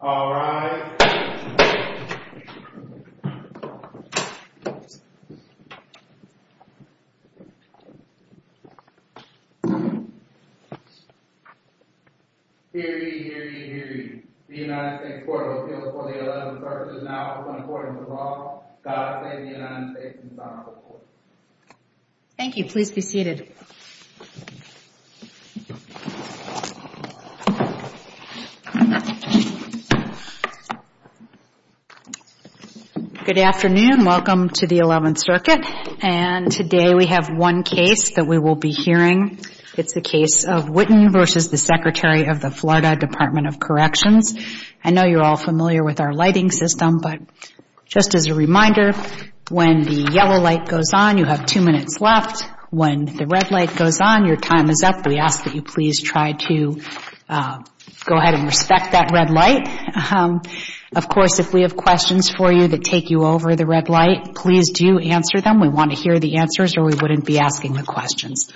All rise. Hear ye, hear ye, hear ye. The United States Court of Appeals for the 11th versus now is in accordance with law. God save the United States and the United States Supreme Court. Thank you. Please be seated. Good afternoon. Welcome to the 11th Circuit. And today we have one case that we will be hearing. It's the case of Whitton v. Secretary of the Florida Department of Corrections. I know you're all familiar with our lighting system, but just as a reminder, when the yellow light goes on, you have two minutes left. When the red light goes on, your time is up. We ask that you please try to go ahead and respect that red light. Of course, if we have questions for you that take you over the red light, please do answer them. We want to hear the answers or we wouldn't be asking the questions.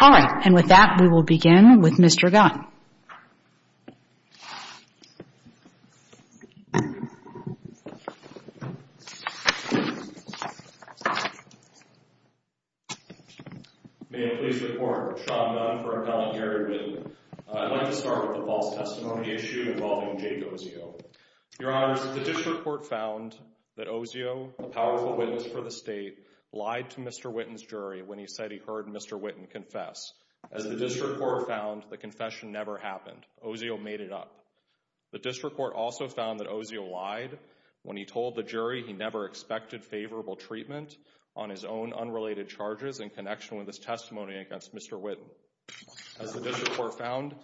All right. And with that, we will begin with Mr. Gunn. May it please the Court. Sean Gunn for Appellant Gary Whitton. I'd like to start with the false testimony issue involving Jake Ozio. Your Honors, the district court found that Ozio, a powerful witness for the state, lied to Mr. Whitton's jury when he said he heard Mr. Whitton confess. As the district court found, the confession never happened. Ozio made it up. The district court also found that Ozio lied when he told the jury he never expected favorable treatment on his own unrelated charges in connection with his testimony against Mr. Whitton. As the district court found,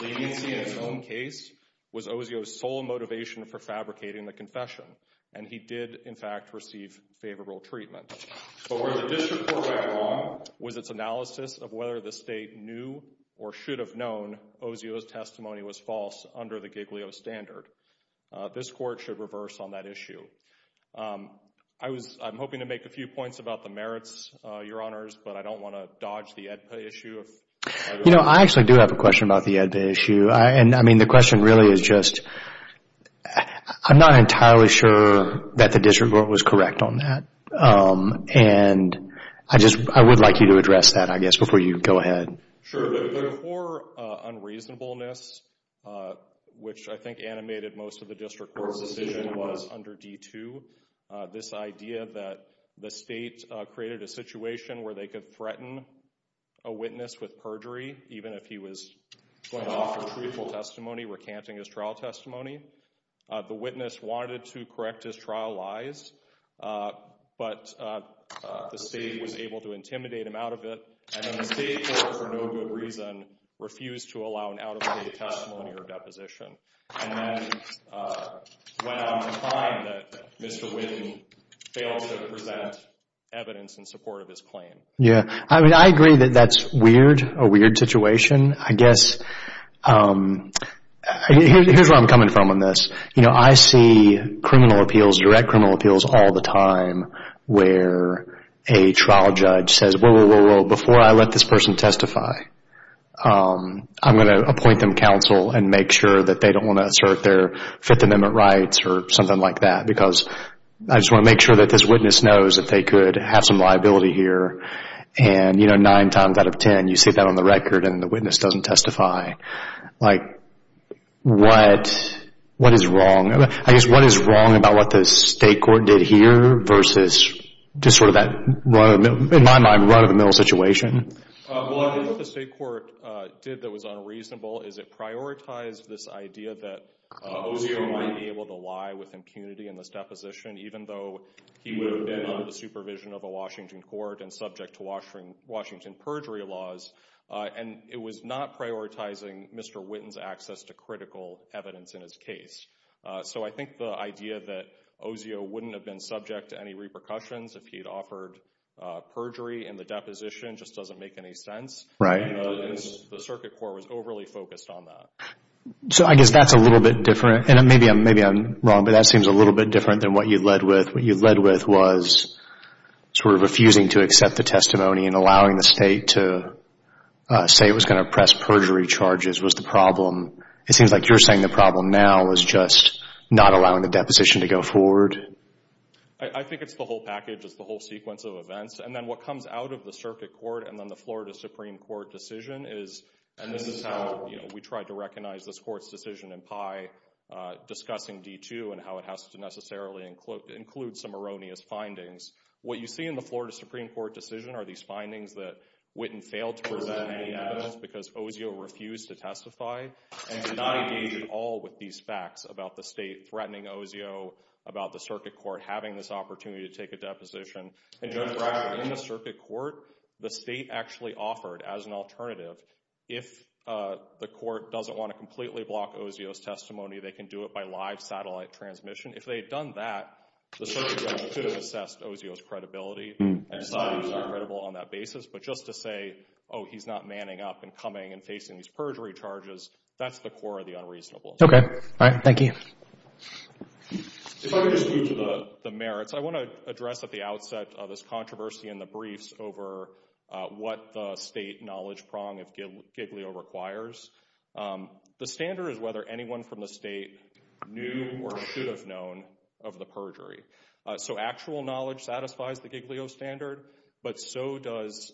leniency in his own case was Ozio's sole motivation for fabricating the confession, and he did, in fact, receive favorable treatment. But where the district court went wrong was its analysis of whether the state knew or should have known Ozio's testimony was false under the Giglio standard. This Court should reverse on that issue. I'm hoping to make a few points about the merits, Your Honors, but I don't want to dodge the AEDPA issue. You know, I actually do have a question about the AEDPA issue. I mean, the question really is just, I'm not entirely sure that the district court was correct on that. And I just, I would like you to address that, I guess, before you go ahead. Sure. There were four unreasonableness, which I think animated most of the district court's decision was under D-2. This idea that the state created a situation where they could threaten a witness with perjury, even if he was going to offer truthful testimony, recanting his trial testimony. The witness wanted to correct his trial lies, but the state was able to intimidate him out of it. And then the state court, for no good reason, refused to allow an out-of-state testimony or deposition. And then went on to find that Mr. Whitten failed to present evidence in support of his claim. Yeah. I mean, I agree that that's weird, a weird situation. I guess, here's where I'm coming from on this. You know, I see criminal appeals, direct criminal appeals, all the time where a trial judge says, well, before I let this person testify, I'm going to appoint them counsel and make sure that they don't want to assert their Fifth Amendment rights or something like that. Because I just want to make sure that this witness knows that they could have some liability here. And, you know, nine times out of ten, you sit down on the record and the witness doesn't testify. Like, what is wrong? I guess, what is wrong about what the state court did here versus just sort of that, in my mind, run-of-the-mill situation? Well, I think what the state court did that was unreasonable is it prioritized this idea that OCO might be able to lie with impunity in this deposition, even though he would have been under the supervision of a Washington court and subject to Washington perjury laws. And it was not prioritizing Mr. Witten's access to critical evidence in his case. So I think the idea that OCO wouldn't have been subject to any repercussions if he had offered perjury in the deposition just doesn't make any sense. Right. The circuit court was overly focused on that. So I guess that's a little bit different. And maybe I'm wrong, but that seems a little bit different than what you led with. What you led with was sort of refusing to accept the testimony and allowing the state to say it was going to press perjury charges was the problem. It seems like you're saying the problem now is just not allowing the deposition to go forward. I think it's the whole package. It's the whole sequence of events. And then what comes out of the circuit court and then the Florida Supreme Court decision is, and this is how we tried to recognize this court's decision in PI discussing D2 and how it has to necessarily include some erroneous findings. What you see in the Florida Supreme Court decision are these findings that Witten failed to present any evidence because OCO refused to testify and did not engage at all with these facts about the state threatening OCO about the circuit court having this opportunity to take a deposition. In the circuit court, the state actually offered as an alternative, if the court doesn't want to completely block OCO's testimony, they can do it by live satellite transmission. If they had done that, the circuit court should have assessed OCO's credibility and decided he's not credible on that basis. But just to say, oh, he's not manning up and coming and facing these perjury charges, that's the core of the unreasonable. Okay. All right. Thank you. If I could just move to the merits, I want to address at the outset this controversy in the briefs over what the state knowledge prong of Giglio requires. The standard is whether anyone from the state knew or should have known of the perjury. So actual knowledge satisfies the Giglio standard, but so does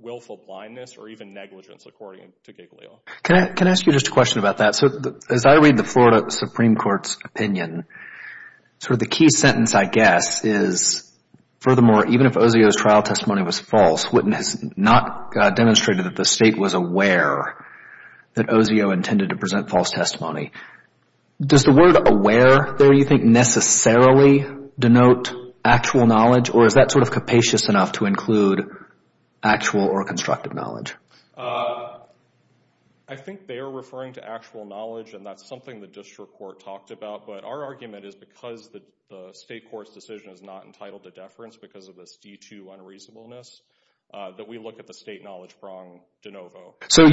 willful blindness or even negligence according to Giglio. Can I ask you just a question about that? So as I read the Florida Supreme Court's opinion, sort of the key sentence, I guess, is, furthermore, even if OCO's trial testimony was false, witness not demonstrated that the state was aware that OCO intended to present false testimony. Does the word aware there, you think, necessarily denote actual knowledge or is that sort of capacious enough to include actual or constructive knowledge? I think they are referring to actual knowledge and that's something the district court talked about, but our argument is because the state court's decision is not entitled to deference because of this D-2 unreasonableness, that we look at the state knowledge prong de novo. So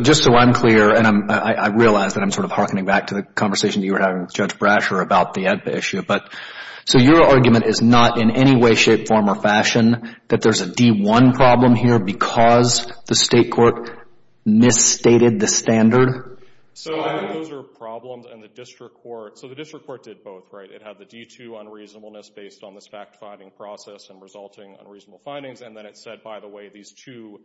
just so I'm clear, and I realize that I'm sort of hearkening back to the conversation you were having with Judge Brasher about the AEDPA issue, but so your argument is not in any way, shape, form or fashion that there's a D-1 problem here because the state court misstated the standard? So I think those are problems and the district court, so the district court did both, right? It had the D-2 unreasonableness based on this fact-finding process and resulting unreasonable findings and then it said, by the way, these two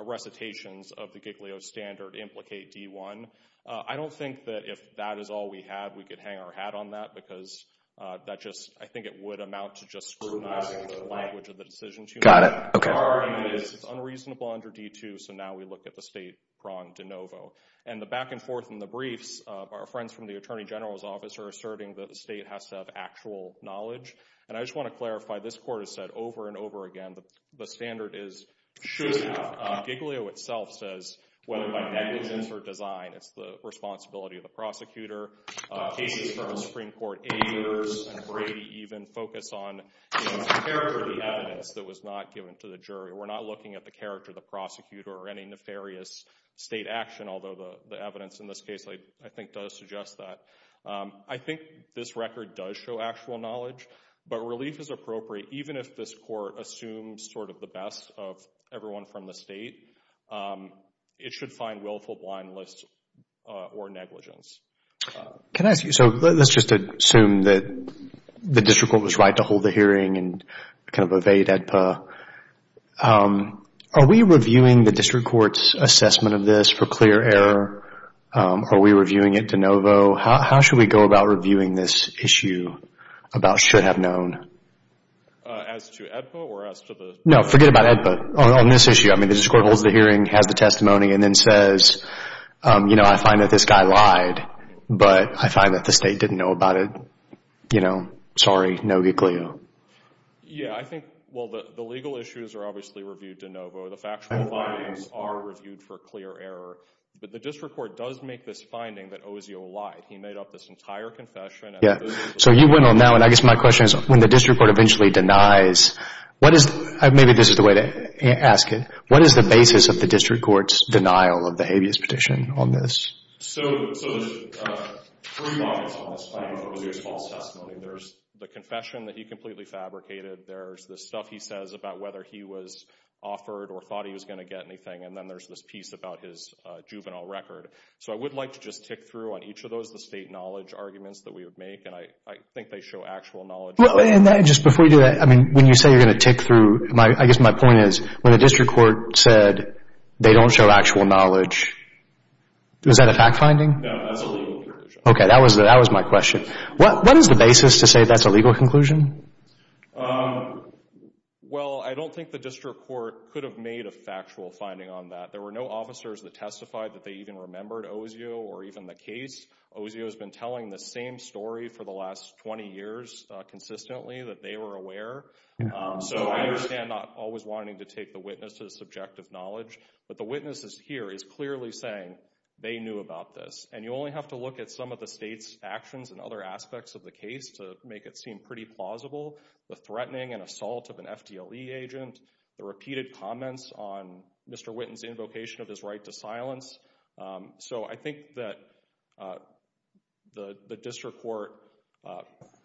recitations of the Giglio standard implicate D-1. I don't think that if that is all we have, we could hang our hat on that because that just, I think it would amount to just scrutinizing the language of the decision too much. Got it. Okay. Our argument is it's unreasonable under D-2, so now we look at the state prong de novo. And the back and forth in the briefs of our friends from the Attorney General's office are asserting that the state has to have actual knowledge, and I just want to clarify, this court has said over and over again, the standard should have, Giglio itself says whether by negligence or design, it's the responsibility of the prosecutor. Cases from Supreme Court aiders and Brady even focus on the character of the evidence that was not given to the jury. We're not looking at the character of the prosecutor or any nefarious state action, although the evidence in this case, I think, does suggest that. I think this record does show actual knowledge, but relief is appropriate, even if this court assumes sort of the best of everyone from the state. It should find willful blindness or negligence. Can I ask you, so let's just assume that the district court was right to hold the hearing and kind of evade AEDPA. Are we reviewing the district court's assessment of this for clear error? Are we reviewing it de novo? How should we go about reviewing this issue about should have known? As to AEDPA or as to the? No, forget about AEDPA. On this issue, I mean, the district court holds the hearing, has the testimony, and then says, you know, I find that this guy lied, but I find that the state didn't know about it. You know, sorry, no Giglio. Yeah, I think, well, the legal issues are obviously reviewed de novo. The factual findings are reviewed for clear error, but the district court does make this finding that Ozio lied. He made up this entire confession. Yeah, so you went on now, and I guess my question is, when the district court eventually denies, what is, maybe this is the way to ask it, what is the basis of the district court's denial of the habeas petition on this? So there's three modules on this finding. There's false testimony, there's the confession that he completely fabricated, there's the stuff he says about whether he was offered or thought he was going to get anything, and then there's this piece about his juvenile record. So I would like to just tick through on each of those, the state knowledge arguments that we would make, and I think they show actual knowledge. And just before you do that, I mean, when you say you're going to tick through, I guess my point is, when the district court said they don't show actual knowledge, is that a fact finding? No, that's a legal conclusion. Okay, that was my question. What is the basis to say that's a legal conclusion? Well, I don't think the district court could have made a factual finding on that. There were no officers that testified that they even remembered Osio or even the case. Osio has been telling the same story for the last 20 years consistently, that they were aware. So I understand not always wanting to take the witness's subjective knowledge, but the witness here is clearly saying they knew about this. And you only have to look at some of the state's actions and other aspects of the case to make it seem pretty plausible, the threatening and assault of an FDLE agent, the repeated comments on Mr. Witten's invocation of his right to silence. So I think that the district court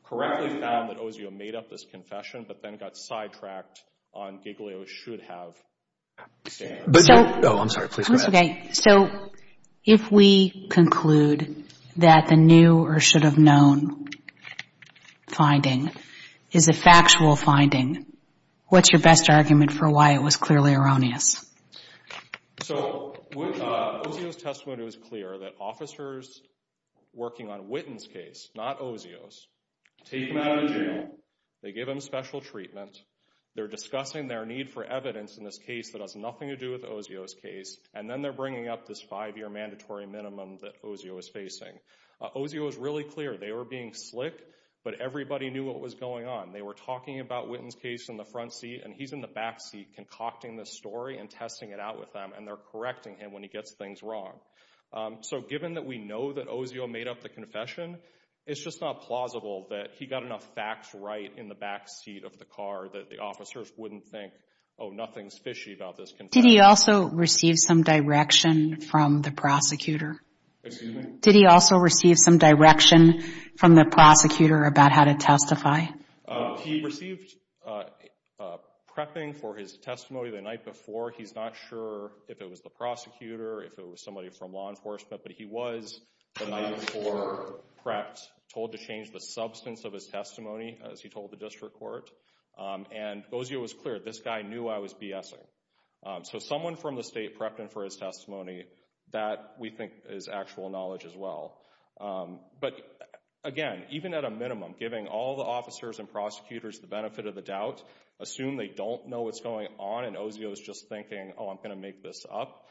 correctly found that Osio made up this confession, but then got sidetracked on Giglio should have. Oh, I'm sorry. Please go ahead. So if we conclude that the new or should have known finding is a factual finding, what's your best argument for why it was clearly erroneous? So Osio's testimony was clear that officers working on Witten's case, not Osio's, take him out of jail, they give him special treatment, they're discussing their need for evidence in this case that has nothing to do with Osio's case, and then they're bringing up this five-year mandatory minimum that Osio is facing. Osio was really clear. They were being slick, but everybody knew what was going on. They were talking about Witten's case in the front seat, and he's in the back seat concocting this story and testing it out with them, and they're correcting him when he gets things wrong. So given that we know that Osio made up the confession, it's just not plausible that he got enough facts right in the back seat of the car that the officers wouldn't think, oh, nothing's fishy about this confession. Did he also receive some direction from the prosecutor? Excuse me? Did he also receive some direction from the prosecutor about how to testify? He received prepping for his testimony the night before. He's not sure if it was the prosecutor, if it was somebody from law enforcement, but he was the night before prepped, told to change the substance of his testimony, as he told the district court, and Osio was clear. This guy knew I was BSing. So someone from the state prepped him for his testimony. That, we think, is actual knowledge as well. But, again, even at a minimum, giving all the officers and prosecutors the benefit of the doubt, assume they don't know what's going on and Osio's just thinking, oh, I'm going to make this up.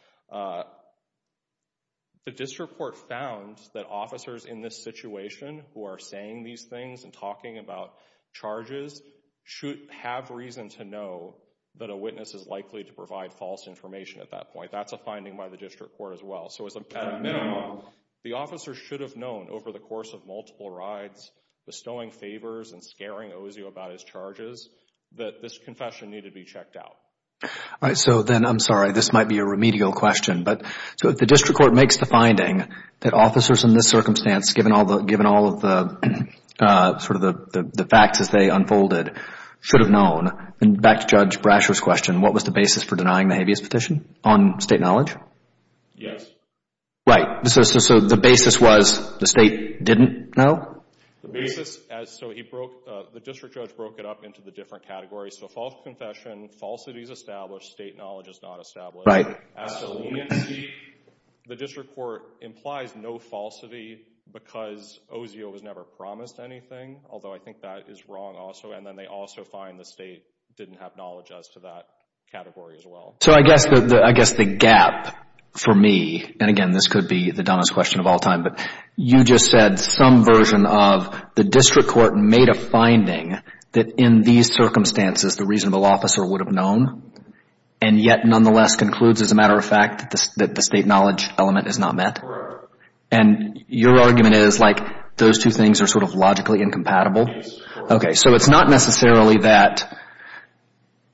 The district court found that officers in this situation who are saying these things and talking about charges should have reason to know that a witness is likely to provide false information at that point. That's a finding by the district court as well. So at a minimum, the officers should have known over the course of multiple rides, bestowing favors and scaring Osio about his charges, that this confession needed to be checked out. All right. So then, I'm sorry, this might be a remedial question, but so if the district court makes the finding that officers in this circumstance, given all of the sort of the facts as they unfolded, should have known, then back to Judge Brasher's question, what was the basis for denying the habeas petition on state knowledge? Yes. Right. So the basis was the state didn't know? The basis, so he broke, the district judge broke it up into the different categories. So false confession, falsity is established, state knowledge is not established. As to leniency, the district court implies no falsity because Osio was never promised anything, although I think that is wrong also, and then they also find the state didn't have knowledge as to that category as well. So I guess the gap for me, and again, this could be the dumbest question of all time, but you just said some version of the district court made a finding that in these circumstances the reasonable officer would have known, and yet nonetheless concludes, as a matter of fact, that the state knowledge element is not met? And your argument is like those two things are sort of logically incompatible? Yes. Okay. So it's not necessarily that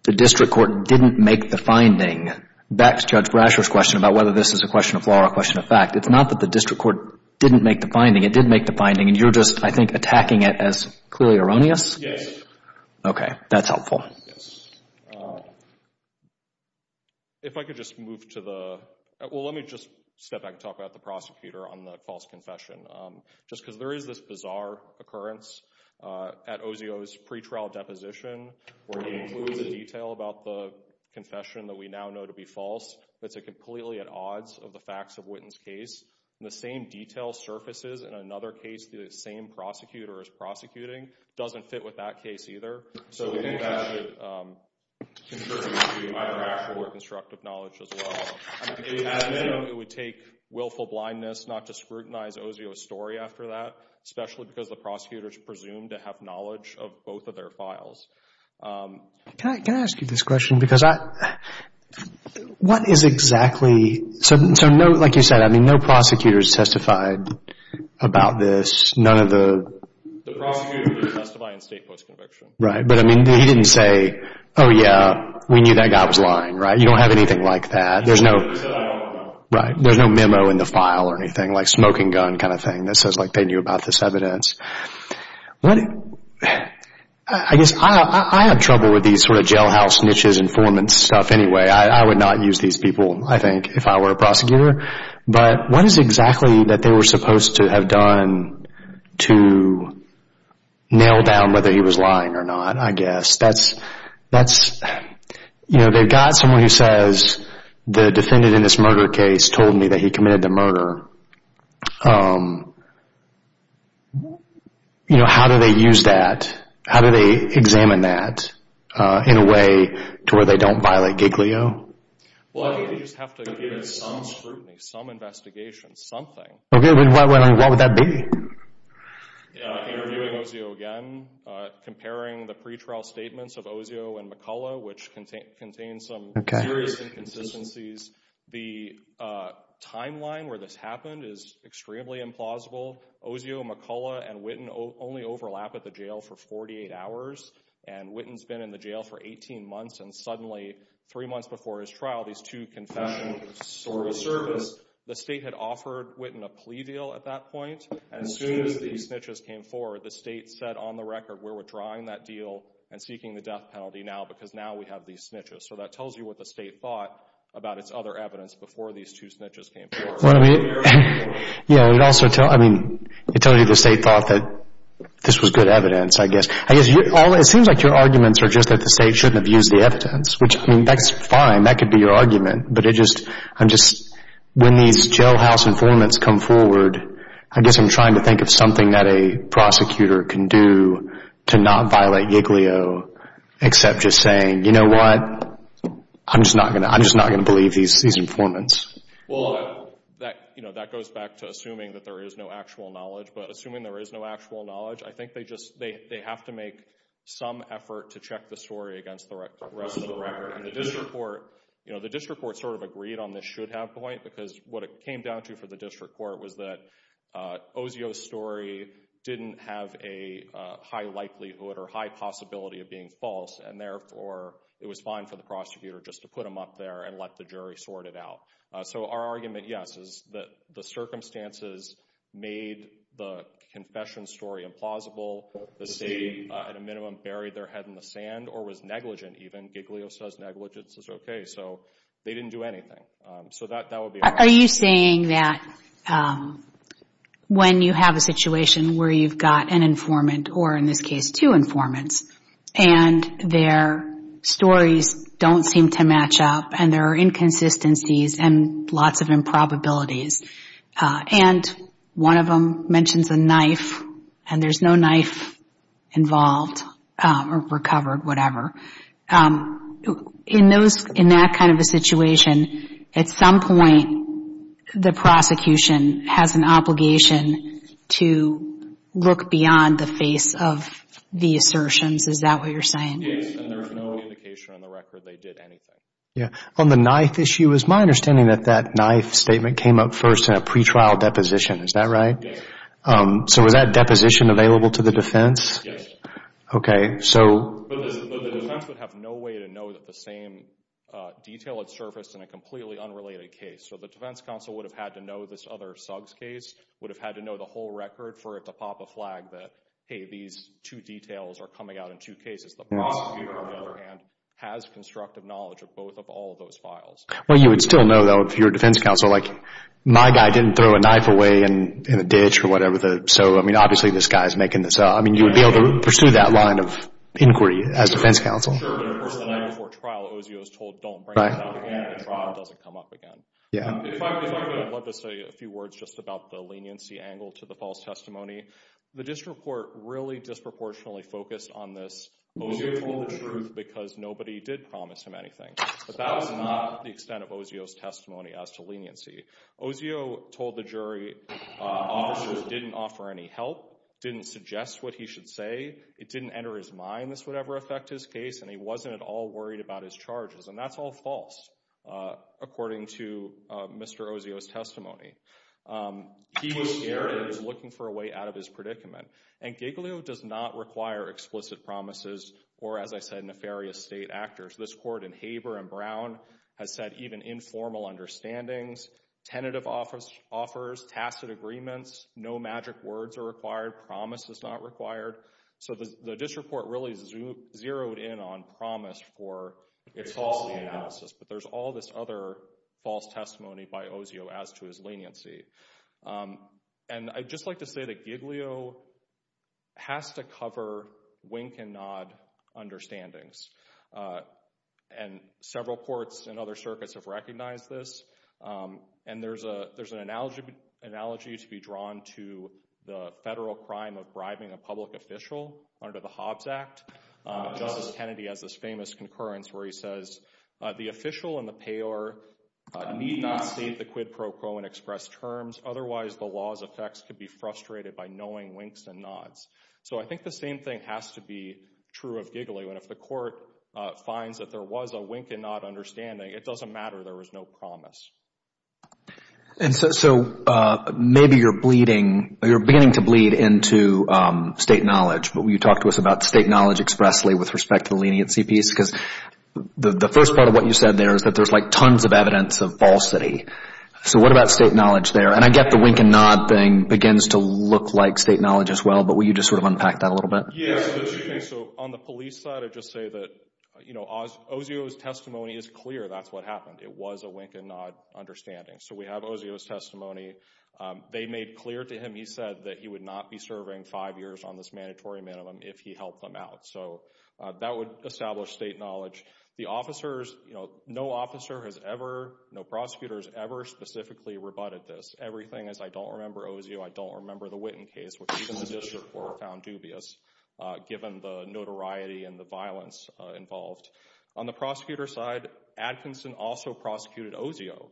the district court didn't make the finding, back to Judge Brasher's question about whether this is a question of law or a question of fact, it's not that the district court didn't make the finding, it did make the finding, and you're just, I think, attacking it as clearly erroneous? Okay. That's helpful. Yes. If I could just move to the, well, let me just step back and talk about the prosecutor on the false confession. Just because there is this bizarre occurrence at Osio's pretrial deposition where he includes a detail about the confession that we now know to be false, that's completely at odds of the facts of Witten's case, and the same detail surfaces in another case that the same prosecutor is prosecuting. It doesn't fit with that case either. So I think that should concern us with either rational or constructive knowledge as well. It would take willful blindness not to scrutinize Osio's story after that, especially because the prosecutors presumed to have knowledge of both of their files. Can I ask you this question? Because I, what is exactly, so no, like you said, I mean, no prosecutors testified about this. None of the... The prosecutor didn't testify in state post-conviction. Right. But, I mean, he didn't say, oh, yeah, we knew that guy was lying, right? You don't have anything like that. He never said, I don't know. Right. There's no memo in the file or anything like smoking gun kind of thing that says, like, they knew about this evidence. What, I guess, I have trouble with these sort of jailhouse niches informant stuff anyway. I would not use these people, I think, if I were a prosecutor. But what is exactly that they were supposed to have done to nail down whether he was lying or not, I guess? That's, you know, they've got someone who says, the defendant in this murder case told me that he committed the murder. You know, how do they use that? How do they examine that in a way to where they don't violate Giglio? Well, I think they just have to give some scrutiny, some investigation, something. Okay. What would that be? Interviewing Ozio again, comparing the pretrial statements of Ozio and McCullough, which contain some serious inconsistencies. The timeline where this happened is extremely implausible. Ozio, McCullough, and Witten only overlap at the jail for 48 hours. And Witten's been in the jail for 18 months, and suddenly, three months before his trial, these two confessions of service, the State had offered Witten a plea deal at that point. And as soon as these snitches came forward, the State said, on the record, we're withdrawing that deal and seeking the death penalty now because now we have these snitches. So that tells you what the State thought about its other evidence before these two snitches came forward. It also tells you the State thought that this was good evidence, I guess. It seems like your arguments are just that the State shouldn't have used the evidence, which, I mean, that's fine. That could be your argument. But when these jailhouse informants come forward, I guess I'm trying to think of something that a prosecutor can do to not violate Giglio except just saying, you know what, I'm just not going to believe these informants. Well, that goes back to assuming that there is no actual knowledge. But assuming there is no actual knowledge, I think they have to make some effort to check the story against the rest of the record. And the district court sort of agreed on this should-have point because what it came down to for the district court was that Osio's story didn't have a high likelihood or high possibility of being false, and therefore it was fine for the prosecutor just to put him up there and let the jury sort it out. So our argument, yes, is that the circumstances made the confession story implausible. The State, at a minimum, buried their head in the sand or was negligent even. Giglio says negligence is okay, so they didn't do anything. So that would be our argument. Are you saying that when you have a situation where you've got an informant, or in this case two informants, and their stories don't seem to match up and there are inconsistencies and lots of improbabilities, and one of them mentions a knife and there's no knife involved or recovered, whatever, in that kind of a situation, at some point the prosecution has an obligation to look beyond the face of the assertions. Is that what you're saying? Yes, and there's no indication on the record they did anything. On the knife issue, it's my understanding that that knife statement came up first in a pretrial deposition. Is that right? Yes. So was that deposition available to the defense? Yes. Okay. But the defense would have no way to know that the same detail had surfaced in a completely unrelated case. So the defense counsel would have had to know this other Suggs case, would have had to know the whole record for it to pop a flag that, hey, these two details are coming out in two cases. The prosecution would know and has constructive knowledge of both of all of those files. Well, you would still know, though, if you're a defense counsel, like my guy didn't throw a knife away in a ditch or whatever. So, I mean, obviously this guy is making this up. I mean, you would be able to pursue that line of inquiry as defense counsel. Sure, but of course the night before trial, Osio is told don't bring it up again and the trial doesn't come up again. Yeah. If I could, I'd love to say a few words just about the leniency angle to the false testimony. The district court really disproportionately focused on this. Osio told the truth because nobody did promise him anything. But that was not the extent of Osio's testimony as to leniency. Osio told the jury officers didn't offer any help, didn't suggest what he should say. It didn't enter his mind this would ever affect his case, and he wasn't at all worried about his charges. And that's all false, according to Mr. Osio's testimony. He was scared and was looking for a way out of his predicament. And Giglio does not require explicit promises or, as I said, nefarious state actors. This court in Haber and Brown has said even informal understandings, tentative offers, tacit agreements, no magic words are required, promise is not required. So the district court really zeroed in on promise for its false analysis. But there's all this other false testimony by Osio as to his leniency. And I'd just like to say that Giglio has to cover wink and nod understandings. And several courts and other circuits have recognized this. And there's an analogy to be drawn to the federal crime of bribing a public official under the Hobbs Act. Justice Kennedy has this famous concurrence where he says, the official and the payer need not state the quid pro quo and express terms, otherwise the law's effects could be frustrated by knowing winks and nods. So I think the same thing has to be true of Giglio. And if the court finds that there was a wink and nod understanding, it doesn't matter, there was no promise. And so maybe you're beginning to bleed into state knowledge. But you talked to us about state knowledge expressly with respect to the leniency piece. Because the first part of what you said there is that there's like tons of evidence of falsity. So what about state knowledge there? And I get the wink and nod thing begins to look like state knowledge as well. But will you just sort of unpack that a little bit? Yes. So on the police side, I'd just say that Osio's testimony is clear. That's what happened. It was a wink and nod understanding. So we have Osio's testimony. They made clear to him, he said, that he would not be serving five years on this mandatory minimum if he helped them out. So that would establish state knowledge. The officers, you know, no officer has ever, no prosecutor has ever specifically rebutted this. Everything is, I don't remember Osio, I don't remember the Witten case, which even the district court found dubious, given the notoriety and the violence involved. But on the prosecutor side, Atkinson also prosecuted Osio.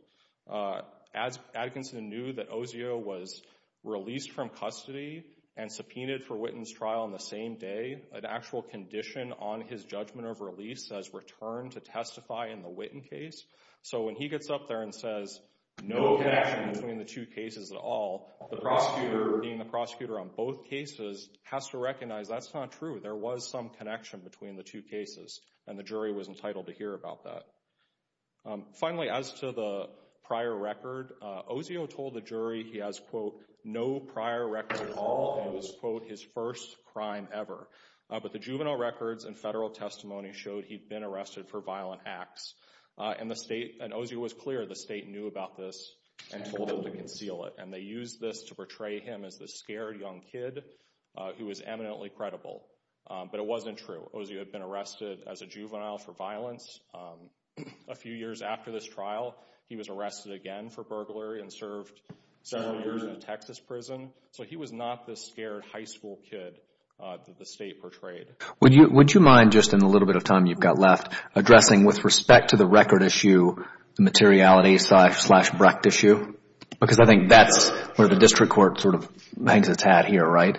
Atkinson knew that Osio was released from custody and subpoenaed for Witten's trial on the same day. An actual condition on his judgment of release says return to testify in the Witten case. So when he gets up there and says, no connection between the two cases at all, the prosecutor being the prosecutor on both cases has to recognize that's not true. There was some connection between the two cases and the jury was entitled to hear about that. Finally, as to the prior record, Osio told the jury he has, quote, no prior record at all and it was, quote, his first crime ever. But the juvenile records and federal testimony showed he'd been arrested for violent acts. And the state, and Osio was clear, the state knew about this and told him to conceal it. And they used this to portray him as this scared young kid who was eminently credible. But it wasn't true. Osio had been arrested as a juvenile for violence. A few years after this trial, he was arrested again for burglary and served several years in a Texas prison. So he was not this scared high school kid that the state portrayed. Would you mind, just in the little bit of time you've got left, addressing with respect to the record issue, the materiality slash Brecht issue? Because I think that's where the district court sort of hangs its hat here, right?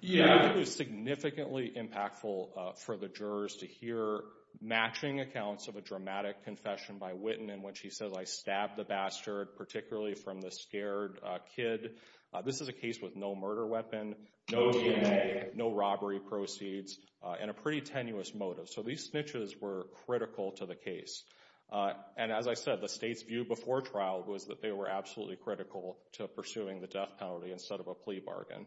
Yeah, I think it was significantly impactful for the jurors to hear matching accounts of a dramatic confession by Witten in which he says, I stabbed the bastard, particularly from the scared kid. This is a case with no murder weapon, no DNA, no robbery proceeds, and a pretty tenuous motive. So these snitches were critical to the case. And as I said, the state's view before trial was that they were absolutely critical to pursuing the death penalty instead of a plea bargain.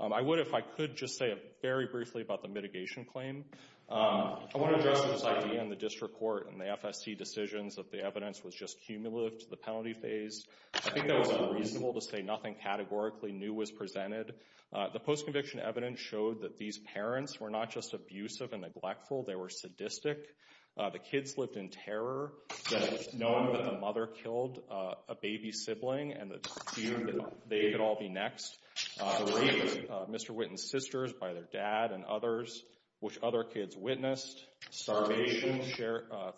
I would, if I could, just say very briefly about the mitigation claim. I want to address this idea in the district court and the FSC decisions that the evidence was just cumulative to the penalty phase. I think that was unreasonable to say nothing categorically new was presented. The post-conviction evidence showed that these parents were not just abusive and neglectful. They were sadistic. The kids lived in terror. Knowing that the mother killed a baby sibling and that they could all be next. The rape of Mr. Witten's sisters by their dad and others, which other kids witnessed. Starvation.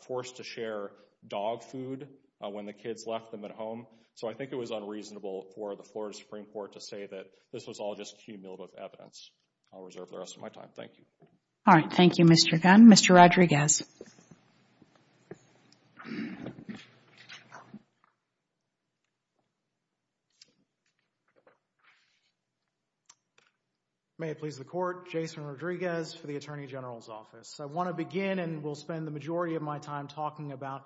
Forced to share dog food when the kids left them at home. So I think it was unreasonable for the Florida Supreme Court to say that this was all just cumulative evidence. I'll reserve the rest of my time. Thank you. All right. Thank you, Mr. Gunn. Mr. Rodriguez. May it please the court. Jason Rodriguez for the Attorney General's office. I want to begin and will spend the majority of my time talking about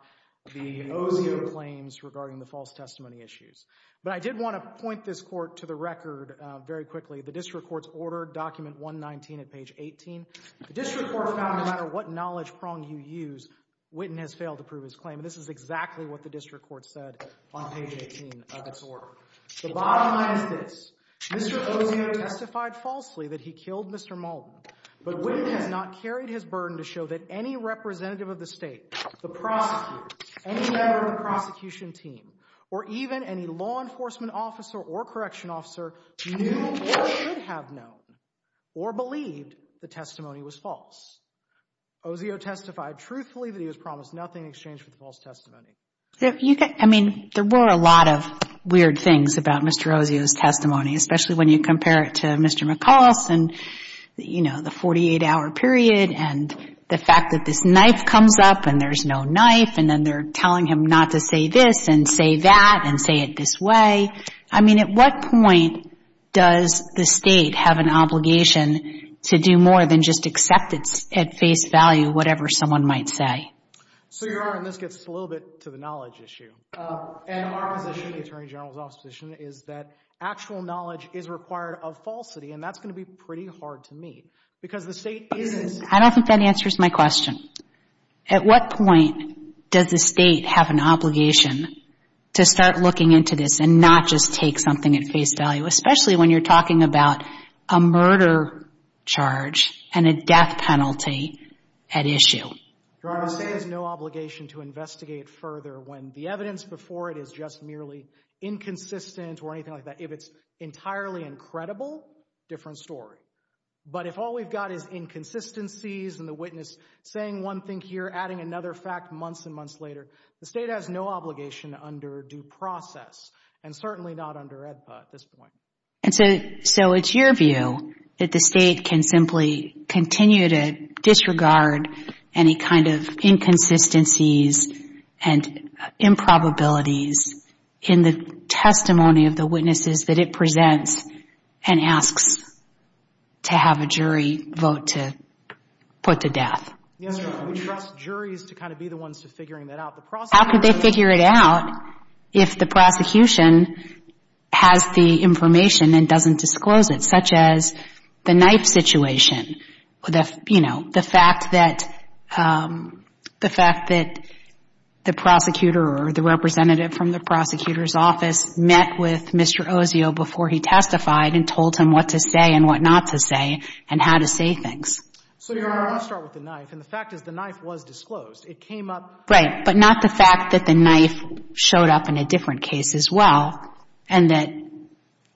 the OCO claims regarding the false testimony issues. But I did want to point this court to the record very quickly. The district court's order, document 119 at page 18. The district court found no matter what knowledge prong you use, Witten has failed to prove his claim. And this is exactly what the district court said on page 18 of its order. The bottom line is this. Mr. OCO testified falsely that he killed Mr. Malden. But Witten has not carried his burden to show that any representative of the state, the prosecutor, any member of the prosecution team, or even any law enforcement officer or correction officer knew or should have known or believed the testimony was false. OCO testified truthfully that he was promised nothing in exchange for the false testimony. I mean, there were a lot of weird things about Mr. OCO's testimony, especially when you compare it to Mr. McCall's and the 48-hour period and the fact that this knife comes up and there's no knife, and then they're telling him not to say this and say that and say it this way. I mean, at what point does the state have an obligation to do more than just accept at face value whatever someone might say? So you are, and this gets a little bit to the knowledge issue. And our position, the Attorney General's office position, is that actual knowledge is required of falsity. And that's going to be pretty hard to meet because the state isn't. I don't think that answers my question. At what point does the state have an obligation to start looking into this and not just take something at face value, especially when you're talking about a murder charge and a death penalty at issue? Your Honor, the state has no obligation to investigate further when the evidence before it is just merely inconsistent or anything like that. If it's entirely incredible, different story. But if all we've got is inconsistencies and the witness saying one thing here, adding another fact months and months later, the state has no obligation under due process, and certainly not under EDPA at this point. And so it's your view that the state can simply continue to disregard any kind of inconsistencies and improbabilities in the testimony of the witnesses that it presents and asks to have a jury vote to put to death? Yes, Your Honor. We trust juries to kind of be the ones to figuring that out. How could they figure it out if the prosecution has the information and doesn't disclose it, such as the knife situation, the fact that the prosecutor or the representative from the prosecutor's office met with Mr. Osio before he testified and told him what to say and what not to say and how to say things? So, Your Honor, I want to start with the knife. And the fact is the knife was disclosed. It came up. Right, but not the fact that the knife showed up in a different case as well and that,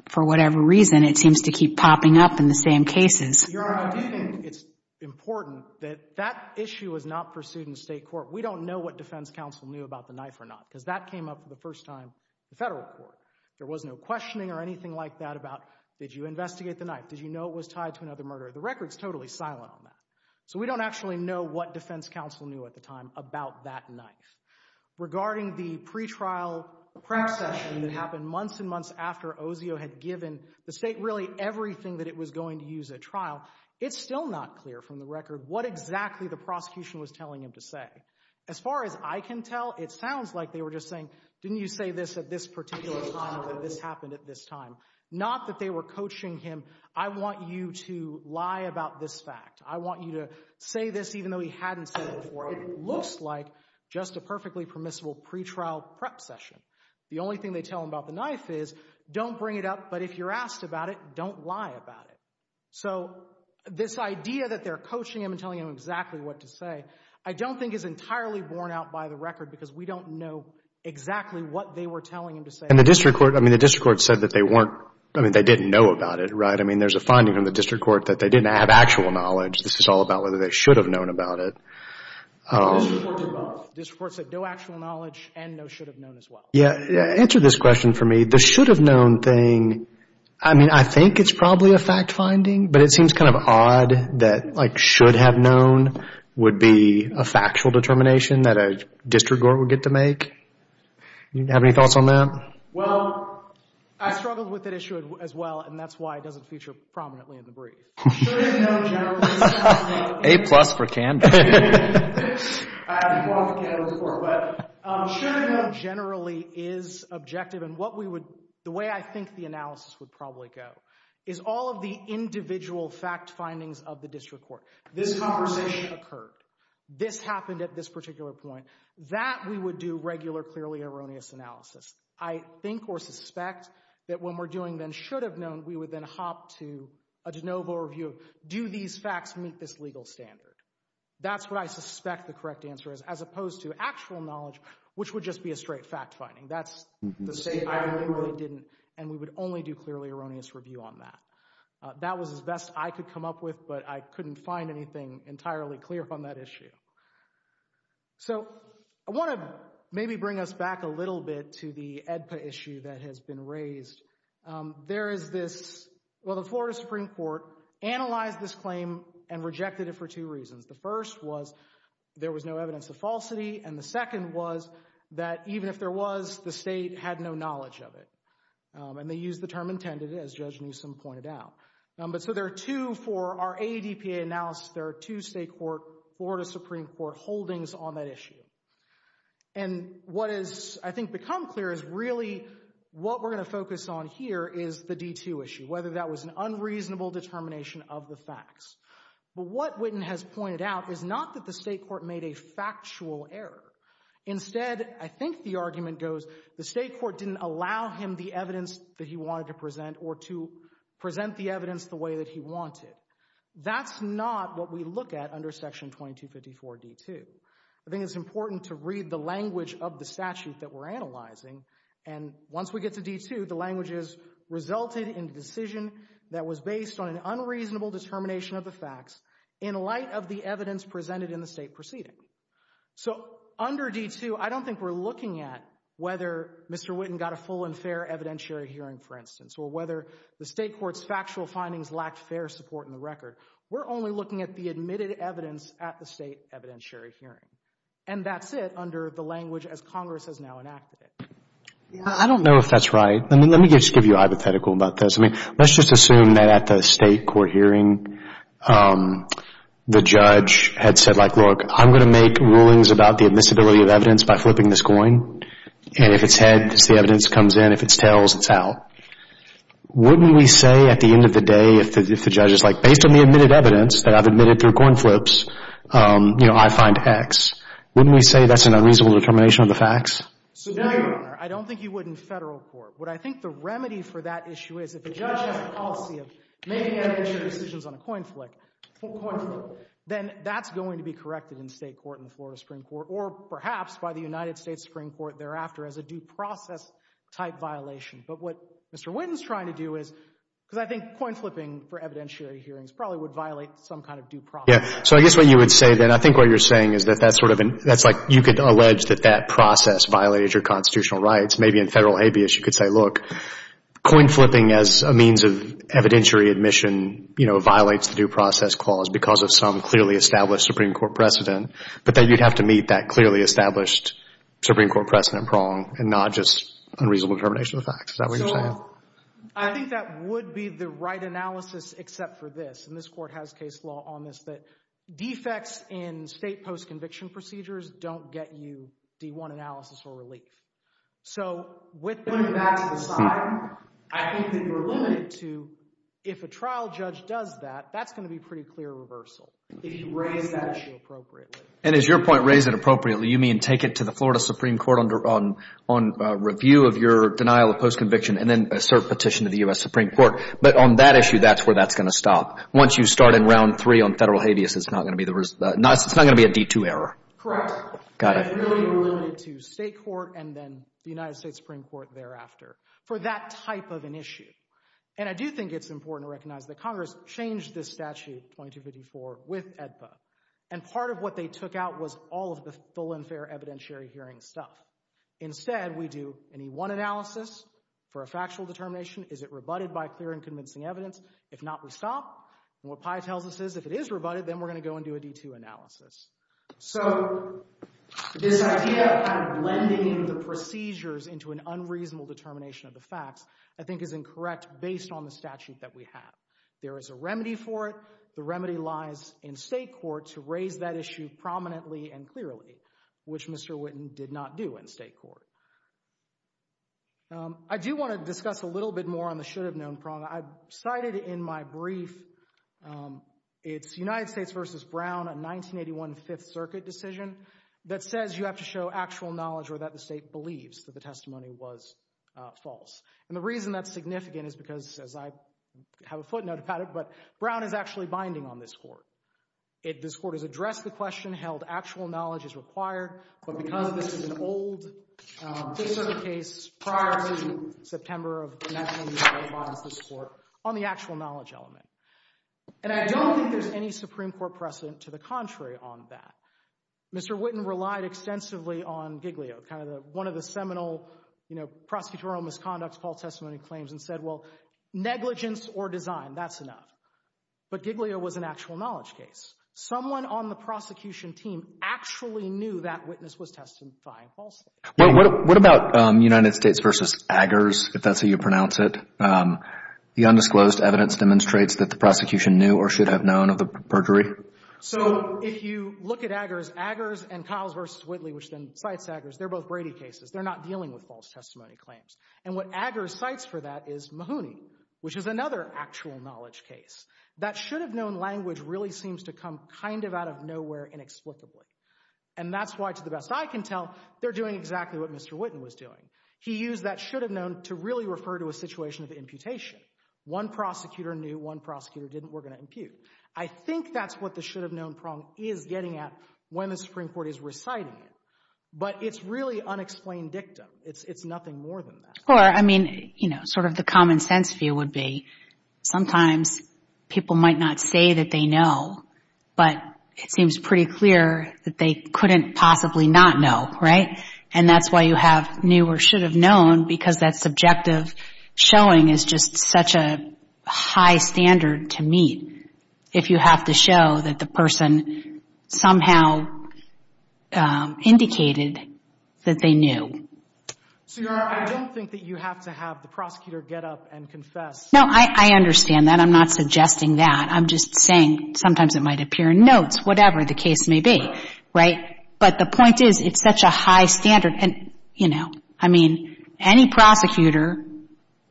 for whatever reason, it seems to keep popping up in the same cases. Your Honor, I do think it's important that that issue is not pursued in state court. We don't know what defense counsel knew about the knife or not, because that came up for the first time in federal court. There was no questioning or anything like that about, did you investigate the knife? Did you know it was tied to another murder? The record's totally silent on that. So we don't actually know what defense counsel knew at the time about that knife. Regarding the pretrial prep session that happened months and months after Osio had given the state really everything that it was going to use at trial, it's still not clear from the record what exactly the prosecution was telling him to say. As far as I can tell, it sounds like they were just saying, didn't you say this at this particular time or that this happened at this time? Not that they were coaching him. I want you to lie about this fact. I want you to say this even though he hadn't said it before. It looks like just a perfectly permissible pretrial prep session. The only thing they tell him about the knife is, don't bring it up, but if you're asked about it, don't lie about it. So this idea that they're coaching him and telling him exactly what to say, I don't think is entirely borne out by the record, because we don't know exactly what they were telling him to say. And the district court, I mean, the district court said that they weren't, I mean, they didn't know about it, right? I mean, there's a finding from the district court that they didn't have actual knowledge. This is all about whether they should have known about it. The district court said both. The district court said no actual knowledge and no should have known as well. Yeah, answer this question for me. The should have known thing, I mean, I think it's probably a fact finding, but it seems kind of odd that, like, should have known would be a factual determination that a district court would get to make. Do you have any thoughts on that? Well, I struggled with that issue as well, and that's why it doesn't feature prominently in the brief. Should have known generally is subjective. A-plus for Kandor. I have to applaud for Kandor's report. But should have known generally is objective. And what we would, the way I think the analysis would probably go is all of the individual fact findings of the district court. This conversation occurred. This happened at this particular point. That we would do regular, clearly erroneous analysis. I think or suspect that when we're doing then should have known, we would then hop to a de novo review of, do these facts meet this legal standard? That's what I suspect the correct answer is, as opposed to actual knowledge, which would just be a straight fact finding. That's the state, I really didn't, and we would only do clearly erroneous review on that. That was as best I could come up with, but I couldn't find anything entirely clear on that issue. So I want to maybe bring us back a little bit to the AEDPA issue that has been raised. There is this, well the Florida Supreme Court analyzed this claim and rejected it for two reasons. The first was there was no evidence of falsity, and the second was that even if there was, the state had no knowledge of it. And they used the term intended, as Judge Newsom pointed out. But so there are two for our AEDPA analysis, there are two state court, Florida Supreme Court, holdings on that issue. And what has, I think, become clear is really what we're going to focus on here is the D2 issue, whether that was an unreasonable determination of the facts. But what Whitten has pointed out is not that the state court made a factual error. Instead, I think the argument goes, the state court didn't allow him the evidence that he wanted to present, or to present the evidence the way that he wanted. That's not what we look at under Section 2254 D2. I think it's important to read the language of the statute that we're analyzing, and once we get to D2, the language is, resulted in the decision that was based on an unreasonable determination of the facts in light of the evidence presented in the state proceeding. So under D2, I don't think we're looking at whether Mr. Whitten got a full and fair evidentiary hearing, for instance, or whether the state court's factual findings lacked fair support in the record. We're only looking at the admitted evidence at the state evidentiary hearing. And that's it under the language as Congress has now enacted it. I don't know if that's right. Let me just give you a hypothetical about this. Let's just assume that at the state court hearing, the judge had said, like, look, I'm going to make rulings about the admissibility of evidence by flipping this coin. And if it's heads, the evidence comes in. If it's tails, it's out. Wouldn't we say at the end of the day, if the judge is like, based on the admitted evidence that I've admitted through coin flips, you know, I find X, wouldn't we say that's an unreasonable determination of the facts? So, Your Honor, I don't think you would in Federal court. What I think the remedy for that issue is if the judge has a policy of making evidentiary decisions on a coin flip, then that's going to be corrected in state court in the Florida Supreme Court or perhaps by the United States Supreme Court thereafter as a due process-type violation. But what Mr. Whitten's trying to do is, because I think coin flipping for evidentiary hearings probably would violate some kind of due process. Yeah, so I guess what you would say then, I think what you're saying is that that's sort of, that's like you could allege that that process violated your constitutional rights. Maybe in Federal habeas you could say, look, coin flipping as a means of evidentiary admission, you know, violates the due process clause because of some clearly established Supreme Court precedent, but then you'd have to meet that clearly established Supreme Court precedent prong and not just unreasonable determination of the facts. Is that what you're saying? So, I think that would be the right analysis except for this, and this Court has case law on this, that defects in state post-conviction procedures don't get you D1 analysis or relief. So, with that to the side, I think that you're limited to if a trial judge does that, that's going to be pretty clear reversal if you raise that issue appropriately. And as your point, raise it appropriately, you mean take it to the Florida Supreme Court on review of your denial of post-conviction and then assert petition to the U.S. Supreme Court. But on that issue, that's where that's going to stop. Once you start in round three on federal habeas, it's not going to be a D2 error. Correct. Got it. You're really limited to state court and then the United States Supreme Court thereafter for that type of an issue. And I do think it's important to recognize that Congress changed this statute, 2254, with AEDPA. And part of what they took out was all of the full and fair evidentiary hearing stuff. Instead, we do an E1 analysis for a factual determination. Is it rebutted by clear and convincing evidence? If not, we stop. And what Pai tells us is if it is rebutted, then we're going to go and do a D2 analysis. So this idea of kind of blending in the procedures into an unreasonable determination of the facts I think is incorrect based on the statute that we have. There is a remedy for it. The remedy lies in state court to raise that issue prominently and clearly, which Mr. Witten did not do in state court. I do want to discuss a little bit more on the should have known prong. I cited in my brief, it's United States versus Brown, a 1981 Fifth Circuit decision that says you have to show actual knowledge or that the state believes that the testimony was false. And the reason that's significant is because, as I have a footnote about it, but Brown is actually binding on this court. This court has addressed the question, held actual knowledge is required, but because this is an old Fifth Circuit case prior to September of 1981, it binds this court on the actual knowledge element. And I don't think there's any Supreme Court precedent to the contrary on that. Mr. Witten relied extensively on Giglio, kind of one of the seminal prosecutorial misconducts, false testimony claims, and said, well, negligence or design, that's enough. But Giglio was an actual knowledge case. Someone on the prosecution team actually knew that witness was testifying falsely. Well, what about United States versus Aggers, if that's how you pronounce it? The undisclosed evidence demonstrates that the prosecution knew or should have known of the perjury. So if you look at Aggers, Aggers and Kyles versus Whitley, which then cites Aggers, they're both Brady cases. They're not dealing with false testimony claims. And what Aggers cites for that is Mahoney, which is another actual knowledge case. That should have known language really seems to come kind of out of nowhere inexplicably. And that's why, to the best I can tell, they're doing exactly what Mr. Witten was doing. He used that should have known to really refer to a situation of imputation. One prosecutor knew, one prosecutor didn't, we're going to impute. I think that's what the should have known problem is getting at when the Supreme Court is reciting it. But it's really unexplained dictum. It's nothing more than that. Or, I mean, you know, sort of the common sense view would be sometimes people might not say that they know, but it seems pretty clear that they couldn't possibly not know, right? And that's why you have knew or should have known, because that subjective showing is just such a high standard to meet if you have to show that the person somehow indicated that they knew. So, Your Honor, I don't think that you have to have the prosecutor get up and confess. No, I understand that. I'm not suggesting that. I'm just saying sometimes it might appear in notes, whatever the case may be, right? But the point is it's such a high standard. And, you know, I mean, any prosecutor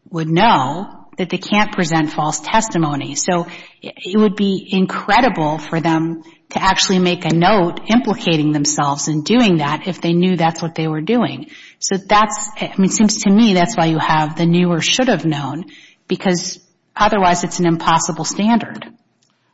would know that they can't present false testimony. So it would be incredible for them to actually make a note implicating themselves in doing that if they knew that's what they were doing. So that's, I mean, it seems to me that's why you have the knew or should have known, because otherwise it's an impossible standard.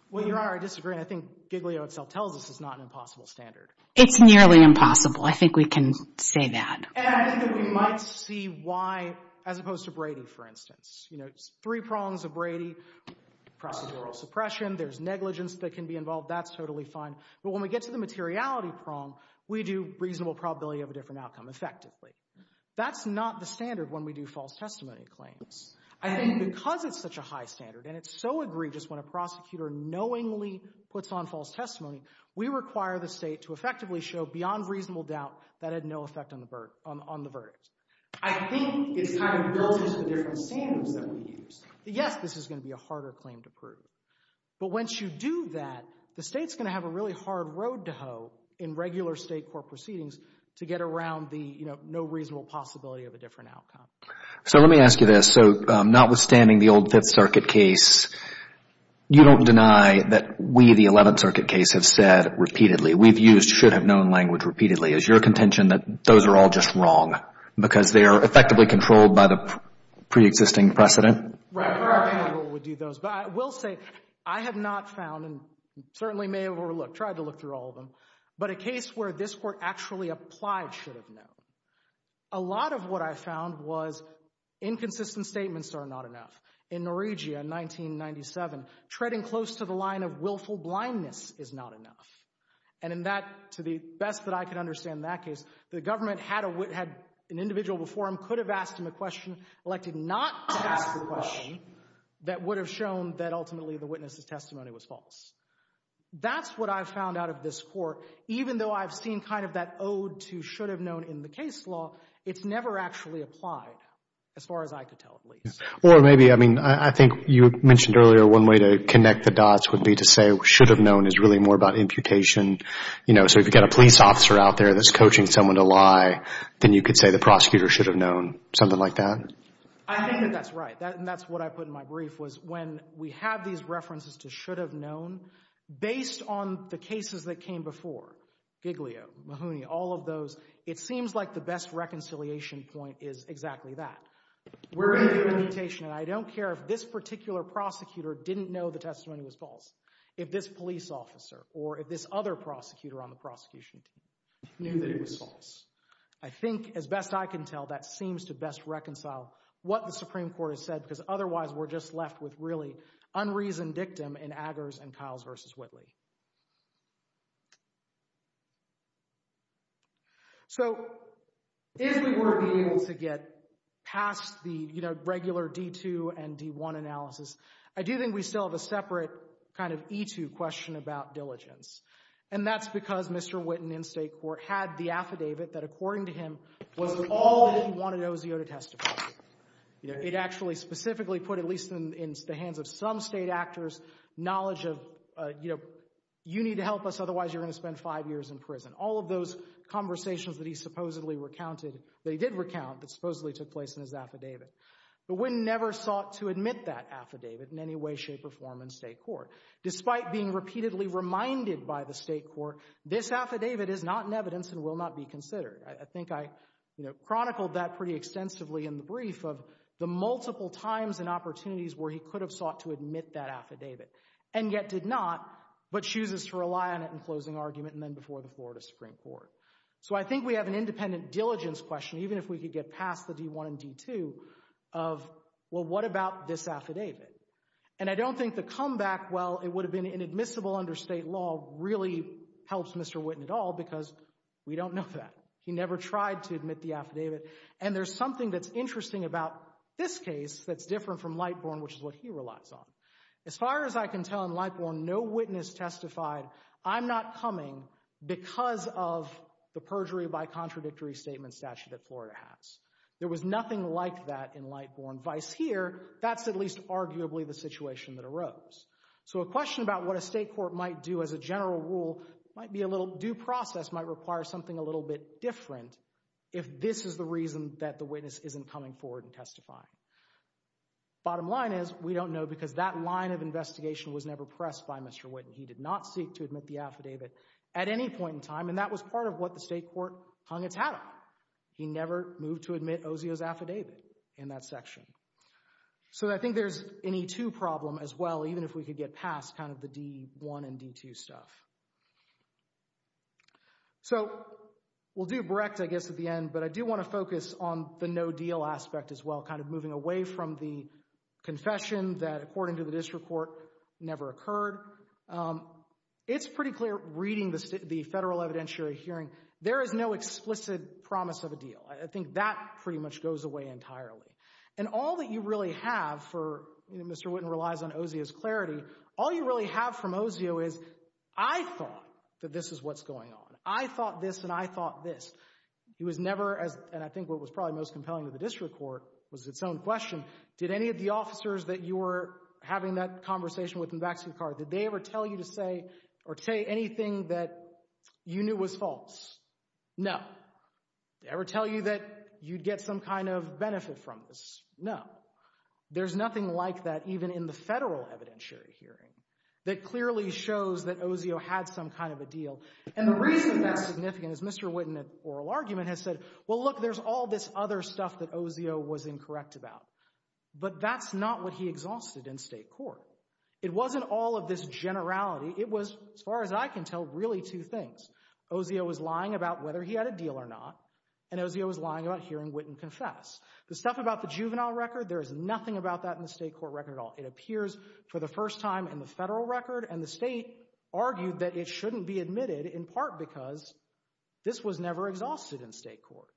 Well, Your Honor, I disagree. I think Giglio itself tells us it's not an impossible standard. It's nearly impossible. I think we can say that. And I think that we might see why, as opposed to Brady, for instance. You know, three prongs of Brady, procedural suppression, there's negligence that can be involved. That's totally fine. But when we get to the materiality prong, we do reasonable probability of a different outcome, effectively. That's not the standard when we do false testimony claims. I think because it's such a high standard, and it's so egregious when a prosecutor knowingly puts on false testimony, we require the State to effectively show beyond reasonable doubt that it had no effect on the verdict. I think it's kind of built into the different standards that we use. Yes, this is going to be a harder claim to prove. But once you do that, the State's going to have a really hard road to hoe in regular State court proceedings to get around the, you know, no reasonable possibility of a different outcome. So let me ask you this. So notwithstanding the old Fifth Circuit case, you don't deny that we, the Eleventh Circuit case, have said repeatedly, we've used should-have-known language repeatedly. Is your contention that those are all just wrong because they are effectively controlled by the preexisting precedent? Right. But I will say I have not found and certainly may have overlooked, tried to look through all of them, but a case where this Court actually applied should-have-known, a lot of what I found was inconsistent statements are not enough. In Noriega in 1997, treading close to the line of willful blindness is not enough. And in that, to the best that I could understand in that case, the government had an individual before him, could have asked him a question, elected not to ask the question, that would have shown that ultimately the witness's testimony was false. That's what I found out of this Court, even though I've seen kind of that ode to should-have-known in the case law, it's never actually applied, as far as I could tell, at least. Or maybe, I mean, I think you mentioned earlier one way to connect the dots would be to say should-have-known is really more about imputation. You know, so if you've got a police officer out there that's coaching someone to lie, then you could say the prosecutor should have known, something like that? I think that that's right. And that's what I put in my brief, was when we have these references to should-have-known, based on the cases that came before, Giglio, Mahoney, all of those, it seems like the best reconciliation point is exactly that. We're in the imputation, and I don't care if this particular prosecutor didn't know the testimony was false, if this police officer, or if this other prosecutor on the prosecution team knew that it was false. I think, as best I can tell, that seems to best reconcile what the Supreme Court has said, because otherwise we're just left with really unreasoned dictum in Aggers and Kiles v. Whitley. So, if we were to be able to get past the regular D-2 and D-1 analysis, I do think we still have a separate kind of E-2 question about diligence. And that's because Mr. Whitten in state court had the affidavit that, according to him, was all that he wanted OZO to testify. It actually specifically put, at least in the hands of some state actors, knowledge of, you know, you need to help us, otherwise you're going to spend five years in prison. All of those conversations that he supposedly recounted, that he did recount, that supposedly took place in his affidavit. But Whitten never sought to admit that affidavit in any way, shape, or form in state court. Despite being repeatedly reminded by the state court, this affidavit is not in evidence and will not be considered. I think I, you know, chronicled that pretty extensively in the brief of the multiple times and opportunities where he could have sought to admit that affidavit, and yet did not, but chooses to rely on it in closing argument and then before the Florida Supreme Court. So I think we have an independent diligence question, even if we could get past the D1 and D2, of, well, what about this affidavit? And I don't think the comeback, well, it would have been inadmissible under state law, really helps Mr. Whitten at all, because we don't know that. He never tried to admit the affidavit. And there's something that's interesting about this case that's different from Lightborn, which is what he relies on. As far as I can tell in Lightborn, no witness testified, I'm not coming because of the perjury by contradictory statement statute that Florida has. There was nothing like that in Lightborn. Vice here, that's at least arguably the situation that arose. So a question about what a state court might do as a general rule, might be a little due process, might require something a little bit different if this is the reason that the witness isn't coming forward and testifying. Bottom line is, we don't know because that line of investigation was never pressed by Mr. Whitten. He did not seek to admit the affidavit at any point in time, and that was part of what the state court hung its hat on. He never moved to admit Oseo's affidavit in that section. So I think there's an E2 problem as well, even if we could get past kind of the D1 and D2 stuff. So we'll do Brecht, I guess, at the end, but I do want to focus on the no deal aspect as well, kind of moving away from the confession that, according to the district court, never occurred. It's pretty clear reading the federal evidentiary hearing, there is no explicit promise of a deal. I think that pretty much goes away entirely. And all that you really have for, Mr. Whitten relies on Oseo's clarity, all you really have from Oseo is, I thought that this is what's going on. I thought this and I thought this. He was never, and I think what was probably most compelling to the district court was its own question, did any of the officers that you were having that conversation with in Baxley Carr, did they ever tell you to say, or say anything that you knew was false? No. Did they ever tell you that you'd get some kind of benefit from this? No. There's nothing like that, even in the federal evidentiary hearing, that clearly shows that Oseo had some kind of a deal. And the reason that's significant is, Mr. Whitten, in an oral argument, has said, well, look, there's all this other stuff that Oseo was incorrect about. But that's not what he exhausted in state court. It wasn't all of this generality, it was, as far as I can tell, really two things. Oseo was lying about whether he had a deal or not, and Oseo was lying about hearing Whitten confess. The stuff about the juvenile record, there is nothing about that in the state court record at all. It appears for the first time in the federal record, and the state argued that it shouldn't be admitted, in part because this was never exhausted in state court.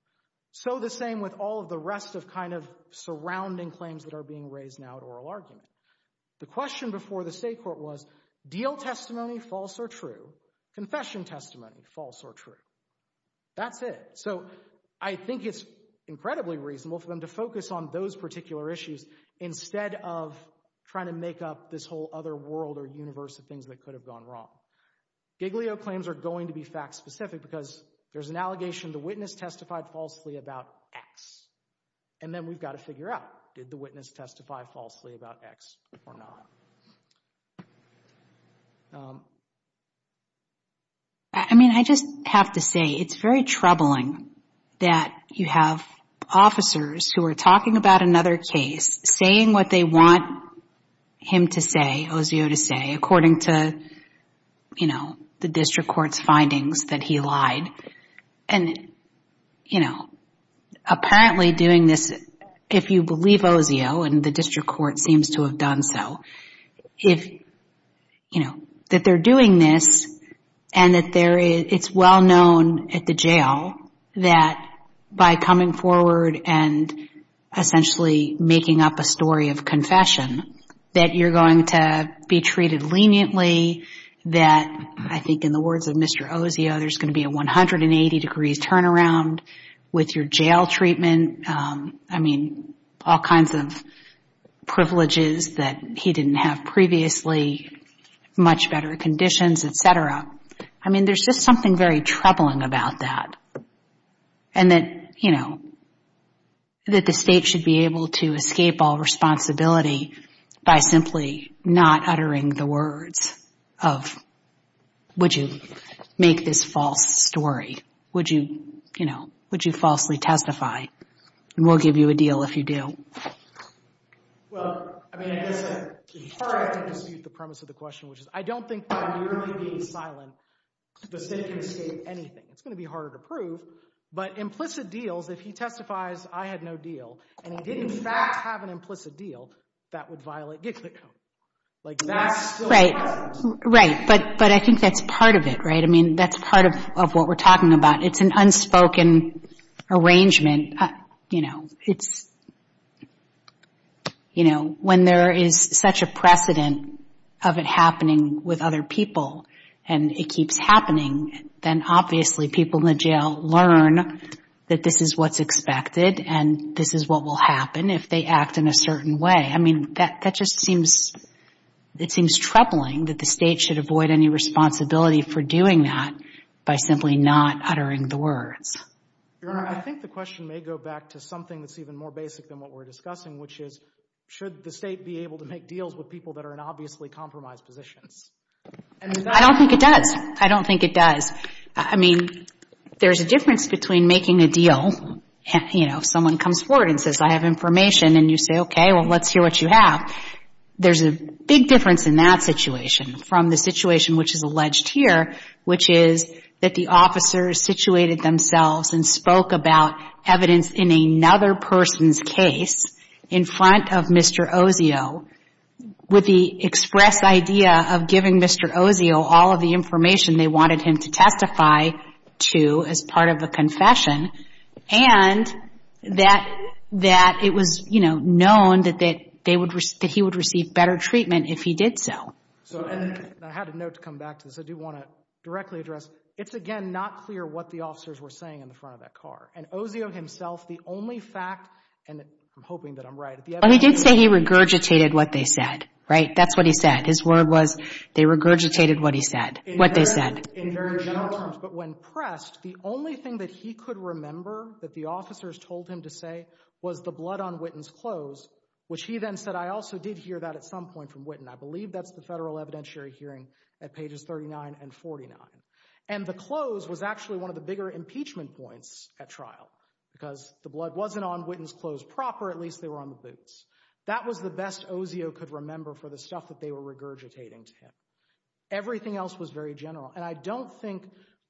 So the same with all of the rest of surrounding claims that are being raised now at oral argument. The question before the state court was, deal testimony, false or true? Confession testimony, false or true? That's it. So I think it's incredibly reasonable for them to focus on those particular issues instead of trying to make up this whole other world or universe of things that could have gone wrong. Giglio claims are going to be fact-specific because there's an allegation to witness testified falsely about X. And then we've got to figure out, did the witness testify falsely about X or not? I mean, I just have to say, it's very troubling that you have officers who are talking about another case, saying what they want him to say, Oseo to say, according to, you know, the district court's findings that he lied. And, you know, apparently doing this, if you believe Oseo, and the district court seems to have done so, if, you know, that they're doing this and that it's well known at the jail that by coming forward and essentially making up a story of confession, that you're going to be treated leniently, that, I think in the words of Mr. Oseo, there's going to be a 180-degree turnaround with your jail treatment. I mean, all kinds of privileges that he didn't have previously, much better conditions, et cetera. I mean, there's just something very troubling about that. And that, you know, that the state should be able to escape all responsibility by simply not uttering the words of, would you make this false story? Would you, you know, would you falsely testify? And we'll give you a deal if you do. Well, I mean, I guess in part I have to dispute the premise of the question, which is I don't think by merely being silent, the state can escape anything. It's going to be harder to prove, but implicit deals, if he testifies I had no deal, and he did in fact have an implicit deal, that would violate GICLA code. Right, right. But I think that's part of it, right? I mean, that's part of what we're talking about. It's an unspoken arrangement. You know, it's, you know, when there is such a precedent of it happening with other people and it keeps happening, then obviously people in the jail learn that this is what's expected and this is what will happen if they act in a certain way. I mean, that just seems troubling that the state should avoid any responsibility for doing that by simply not uttering the words. Your Honor, I think the question may go back to something that's even more basic than what we're discussing, which is should the state be able to make deals with people that are in obviously compromised positions? I don't think it does. I don't think it does. I mean, there's a difference between making a deal, you know, if someone comes forward and says, and you say, okay, well, let's hear what you have, there's a big difference in that situation from the situation which is alleged here, which is that the officers situated themselves and spoke about evidence in another person's case in front of Mr. Ozio with the express idea of giving Mr. Ozio all of the information they wanted him to testify to as part of a confession and that it was, you know, known that he would receive better treatment if he did so. And I had a note to come back to this. I do want to directly address, it's again not clear what the officers were saying in the front of that car. And Ozio himself, the only fact, and I'm hoping that I'm right. But he did say he regurgitated what they said, right? That's what he said. His word was they regurgitated what he said, what they said. In very general terms, but when pressed, the only thing that he could remember that the officers told him to say was the blood on Witten's clothes, which he then said, I also did hear that at some point from Witten. I believe that's the federal evidentiary hearing at pages 39 and 49. And the clothes was actually one of the bigger impeachment points at trial because the blood wasn't on Witten's clothes proper. At least they were on the boots. That was the best Ozio could remember for the stuff that they were regurgitating to him. Everything else was very general. And I don't think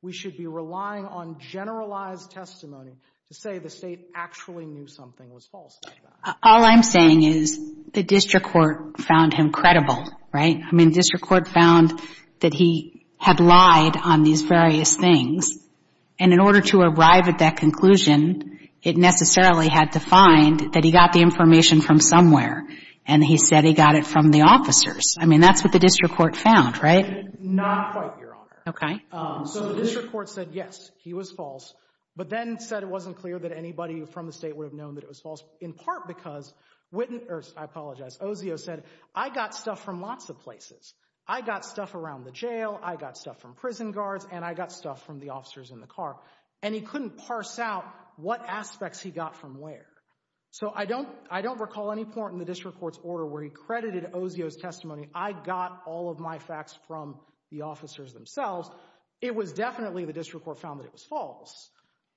we should be relying on generalized testimony to say the State actually knew something was false like that. All I'm saying is the district court found him credible, right? I mean, the district court found that he had lied on these various things. And in order to arrive at that conclusion, it necessarily had to find that he got the information from somewhere. And he said he got it from the officers. I mean, that's what the district court found, right? And not quite, Your Honor. So the district court said, yes, he was false. But then said it wasn't clear that anybody from the State would have known that it was false. In part because Witten, or I apologize, Ozio said, I got stuff from lots of places. I got stuff around the jail. I got stuff from prison guards. And I got stuff from the officers in the car. And he couldn't parse out what aspects he got from where. So I don't recall any point in the district court's order where he credited Ozio's testimony. I got all of my facts from the officers themselves. It was definitely the district court found that it was false.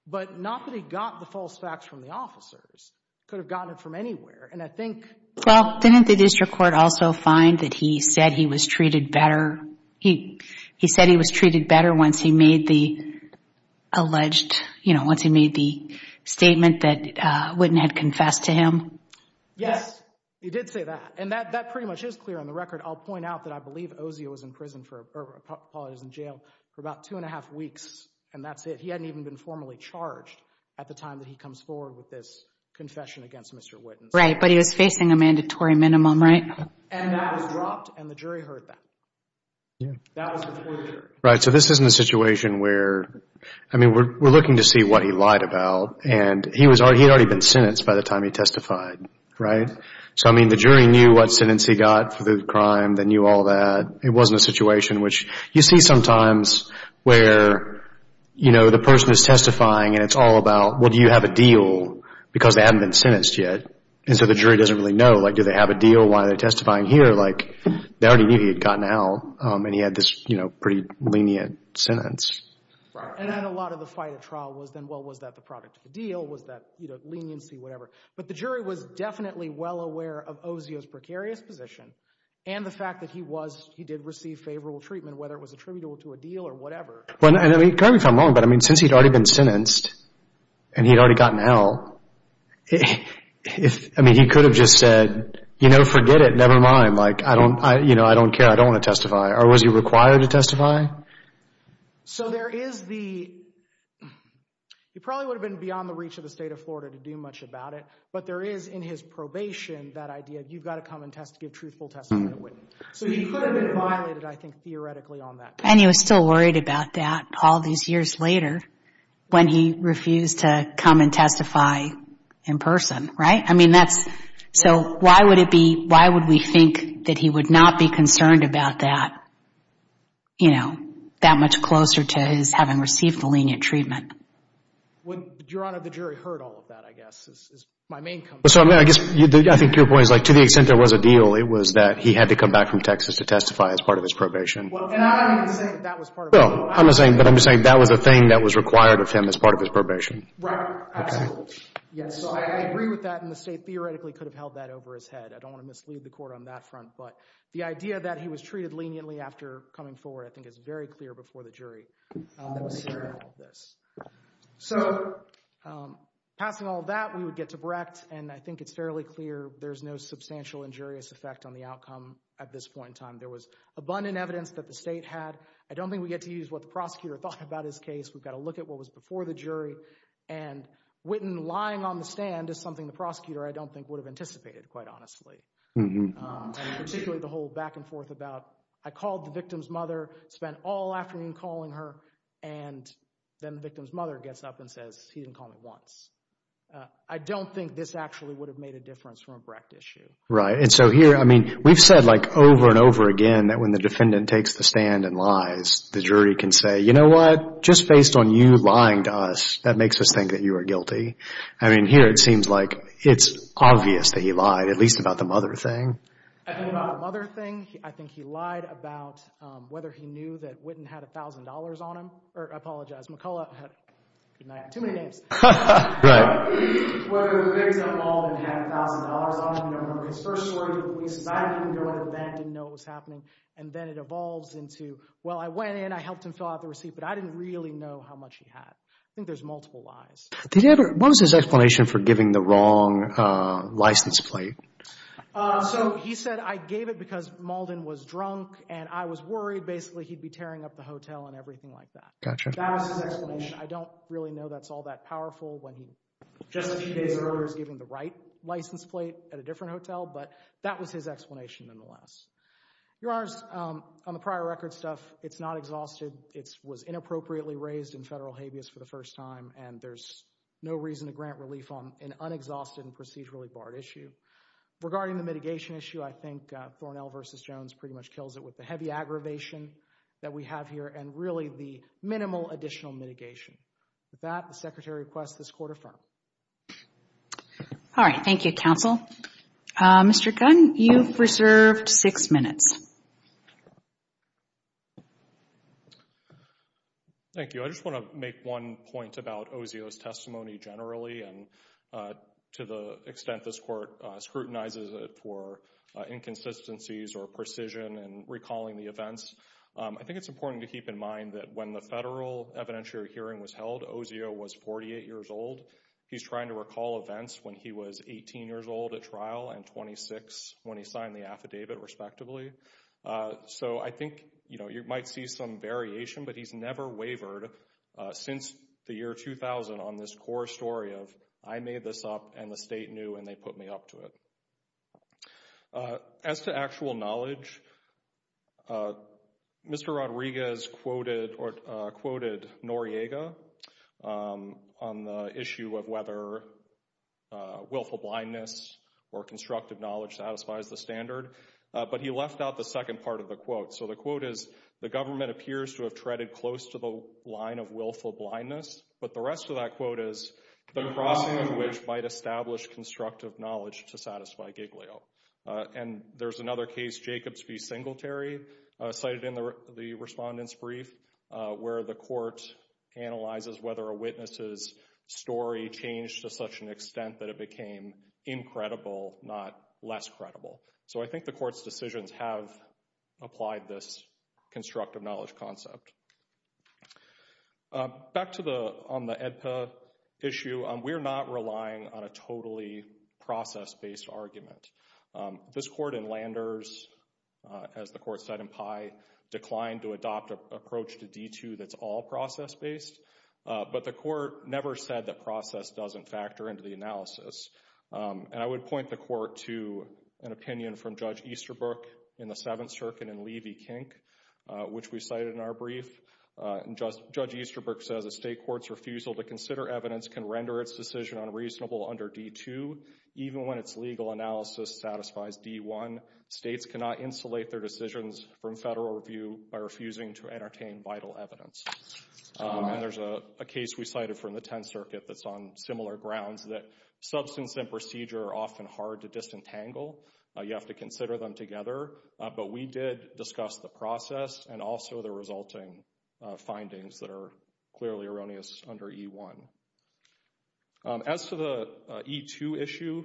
But not that he got the false facts from the officers. Could have gotten it from anywhere. And I think... Well, didn't the district court also find that he said he was treated better? He said he was treated better once he made the alleged, you know, once he made the statement that Witten had confessed to him? Yes, he did say that. And that pretty much is clear on the record. I'll point out that I believe Ozio was in prison for, or I apologize, in jail for about two and a half weeks. And that's it. He hadn't even been formally charged at the time that he comes forward with this confession against Mr. Witten. Right, but he was facing a mandatory minimum, right? And that was dropped, and the jury heard that. That was before the jury. Right, so this is in a situation where, I mean, we're looking to see what he lied about. And he had already been sentenced by the time he testified, right? So, I mean, the jury knew what sentence he got for the crime. They knew all that. It wasn't a situation which you see sometimes where, you know, the person is testifying, and it's all about, well, do you have a deal? Because they hadn't been sentenced yet. And so the jury doesn't really know. Like, do they have a deal? Why are they testifying here? Like, they already knew he had gotten out. And he had this, you know, pretty lenient sentence. And then a lot of the fight at trial was then, well, was that the product of the deal? Was that, you know, leniency, whatever? But the jury was definitely well aware of Osio's precarious position and the fact that he was, he did receive favorable treatment, whether it was attributable to a deal or whatever. Well, and I mean, correct me if I'm wrong, but, I mean, since he'd already been sentenced and he'd already gotten out, I mean, he could have just said, you know, forget it, never mind. Like, I don't, you know, I don't care. I don't want to testify. Or was he required to testify? So there is the, he probably would have been beyond the reach of the state of Florida to do much about it. But there is, in his probation, that idea, you've got to come and give truthful testimony. So he could have been violated, I think, theoretically on that. And he was still worried about that all these years later when he refused to come and testify in person, right? I mean, that's, so why would it be, why would we think that he would not be concerned about that, you know, that much closer to his having received the lenient treatment? Your Honor, the jury heard all of that, I guess, is my main concern. So, I mean, I guess, I think your point is like, to the extent there was a deal, it was that he had to come back from Texas to testify as part of his probation. Well, and I'm not even saying that that was part of his probation. No, I'm not saying, but I'm just saying that was a thing that was required of him as part of his probation. Right, absolutely. Okay. Yes, so I agree with that, and the state theoretically could have held that over his head. I don't want to mislead the court on that front. But the idea that he was treated leniently after coming forward, I think, is very clear before the jury. So, passing all that, we would get to Brecht, and I think it's fairly clear there's no substantial injurious effect on the outcome at this point in time. There was abundant evidence that the state had. I don't think we get to use what the prosecutor thought about his case. We've got to look at what was before the jury, and Whitten lying on the stand is something the prosecutor, I don't think, would have anticipated, quite honestly. And particularly the whole back and forth about, I called the victim's mother, spent all afternoon calling her, and then the victim's mother gets up and says, he didn't call me once. I don't think this actually would have made a difference from a Brecht issue. Right. And so here, I mean, we've said, like, over and over again that when the defendant takes the stand and lies, the jury can say, you know what, just based on you lying to us, that makes us think that you are guilty. I mean, here it seems like it's obvious that he lied, at least about the mother thing. I think about the mother thing, I think he lied about whether he knew that Whitten had $1,000 on him. I apologize, McCullough, I have too many names. Whether the victim at all had $1,000 on him. His first story to the police is, I didn't even go into the van, didn't know what was happening. And then it evolves into, well, I went in, I helped him fill out the receipt, but I didn't really know how much he had. I think there's multiple lies. What was his explanation for giving the wrong license plate? So he said, I gave it because Mauldin was drunk and I was worried basically he'd be tearing up the hotel and everything like that. That was his explanation. I don't really know that's all that powerful when he just a few days earlier was giving the right license plate at a different hotel, but that was his explanation nonetheless. Your Honors, on the prior record stuff, it's not exhausted. It was inappropriately raised in federal habeas for the first time and there's no reason to grant relief on an unexhausted and procedurally barred issue. Regarding the mitigation issue, I think Thornell v. Jones pretty much kills it with the heavy aggravation that we have here and really the minimal additional mitigation. With that, the Secretary requests this Court affirm. All right. Thank you, Counsel. Mr. Gunn, you've reserved six minutes. Thank you. I just want to make one point about Osio's testimony generally and to the extent this Court scrutinizes it for inconsistencies or precision in recalling the events. I think it's important to keep in mind that when the federal evidentiary hearing was held, Osio was 48 years old. He's trying to recall events when he was 18 years old at trial and 26 when he signed the affidavit, respectively. So I think, you know, you might see some variation, but he's never wavered since the year 2000 on this core story of, I made this up and the state knew and they put me up to it. As to actual knowledge, Mr. Rodriguez quoted Noriega on the issue of whether willful blindness or constructive knowledge satisfies the standard, but he left out the second part of the quote. So the quote is, the government appears to have treaded close to the line of willful blindness, but the rest of that quote is, the crossing of which might establish constructive knowledge to satisfy Giglio. And there's another case, Jacobs v. Singletary, cited in the respondent's brief, where the Court analyzes whether a witness's story changed to such an extent that it became incredible, not less credible. So I think the Court's decisions have applied this constructive knowledge concept. Back to the, on the AEDPA issue, we're not relying on a totally process-based argument. This Court in Landers, as the Court said in Pye, declined to adopt an approach to D2 that's all process-based, but the Court never said that process doesn't factor into the analysis. And I would point the Court to an opinion from Judge Easterbrook in the Seventh Circuit in Levy-Kink, which we cited in our brief. And Judge Easterbrook says, a state court's refusal to consider evidence can render its decision unreasonable under D2, even when its legal analysis satisfies D1. States cannot insulate their decisions from federal review by refusing to entertain vital evidence. And there's a case we cited from the Tenth Circuit that's on similar grounds, that substance and procedure are often hard to disentangle. You have to consider them together. But we did discuss the process and also the resulting findings that are clearly erroneous under E1. As for the E2 issue,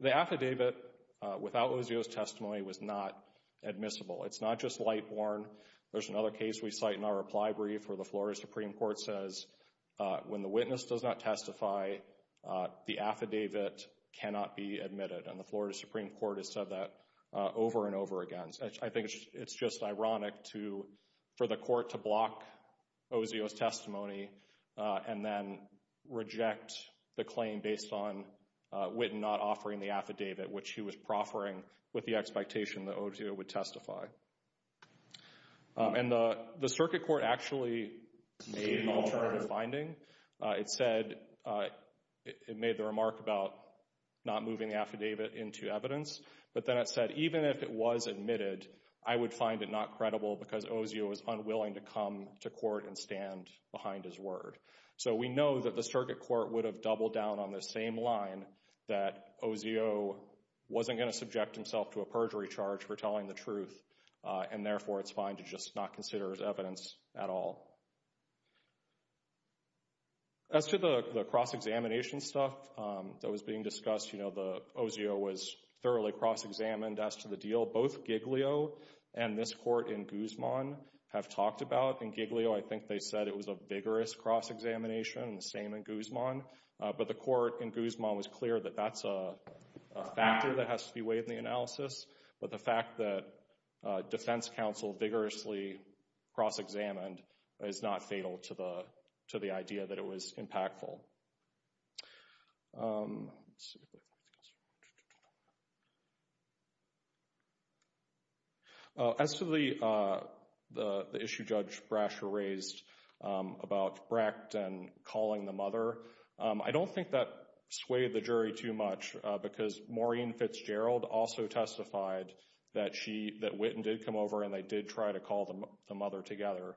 the affidavit without Luzio's testimony was not admissible. It's not just light-borne. There's another case we cite in our reply brief where the Florida Supreme Court says when the witness does not testify, the affidavit cannot be admitted. And the Florida Supreme Court has said that over and over again. I think it's just ironic for the court to block Luzio's testimony and then reject the claim based on Witten not offering the affidavit, which he was proffering with the expectation that Luzio would testify. And the Circuit Court actually made an alternative finding. It said... But then it said... So we know that the Circuit Court would have doubled down on the same line that Luzio wasn't going to subject himself to a perjury charge for telling the truth, and therefore it's fine to just not consider his evidence at all. As to the cross-examination stuff that was being discussed, you know, Luzio was thoroughly cross-examined as to the deal. Both Giglio and this court in Guzman have talked about. In Giglio, I think they said it was a vigorous cross-examination, and the same in Guzman. But the court in Guzman was clear that that's a factor that has to be weighed in the analysis. But the fact that defense counsel vigorously cross-examined is not fatal to the idea that it was impactful. Yes. As to the issue Judge Brasher raised about Brecht and calling the mother, I don't think that swayed the jury too much because Maureen Fitzgerald also testified that Whitten did come over and they did try to call the mother together.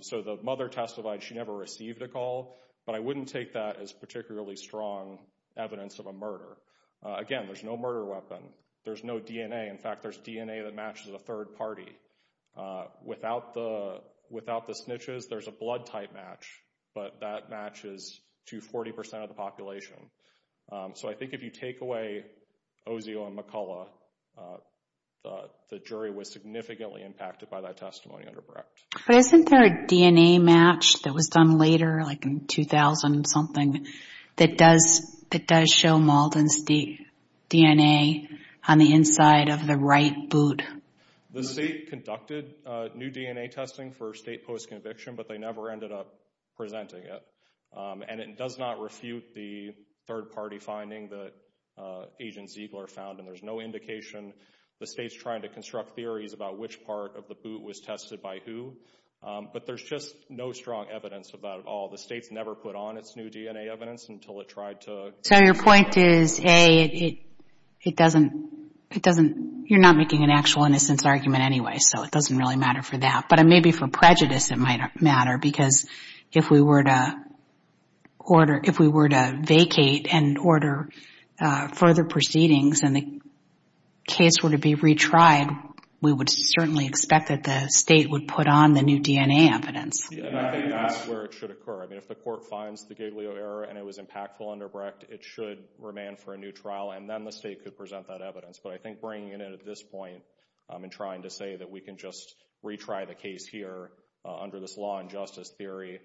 So the mother testified she never received a call, but I wouldn't take that as particularly strong evidence of a murder. Again, there's no murder weapon. There's no DNA. In fact, there's DNA that matches a third party. Without the snitches, there's a blood type match, but that matches to 40% of the population. So I think if you take away Ozio and McCullough, the jury was significantly impacted by that testimony under Brecht. But isn't there a DNA match that was done later, like in 2000-something, that does show Malden's DNA on the inside of the right boot? The state conducted new DNA testing for state post-conviction, but they never ended up presenting it. And it does not refute the third-party finding that Agent Ziegler found, and there's no indication the state's trying to construct theories about which part of the boot was tested by who. But there's just no strong evidence about it all. The state's never put on its new DNA evidence until it tried to... So your point is, A, it doesn't... You're not making an actual innocence argument anyway, so it doesn't really matter for that. But maybe for prejudice it might matter, because if we were to vacate and order further proceedings and the case were to be retried, we would certainly expect that the state would put on the new DNA evidence. And I think that's where it should occur. I mean, if the court finds the Giglio error and it was impactful under Brecht, it should remain for a new trial, and then the state could present that evidence. But I think bringing it at this point and trying to say that we can just retry the case here under this law and justice theory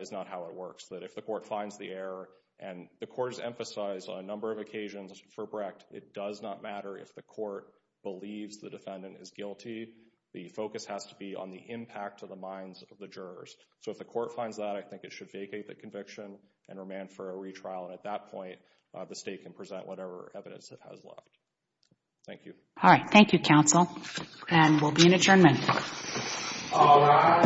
is not how it works. That if the court finds the error, and the court has emphasized on a number of occasions for Brecht, it does not matter if the court believes the defendant is guilty. The focus has to be on the impact to the minds of the jurors. So if the court finds that, I think it should vacate the conviction and remain for a retrial. And at that point, the state can present whatever evidence it has left. Thank you. All right. Thank you, counsel. And we'll be in adjournment. All rise.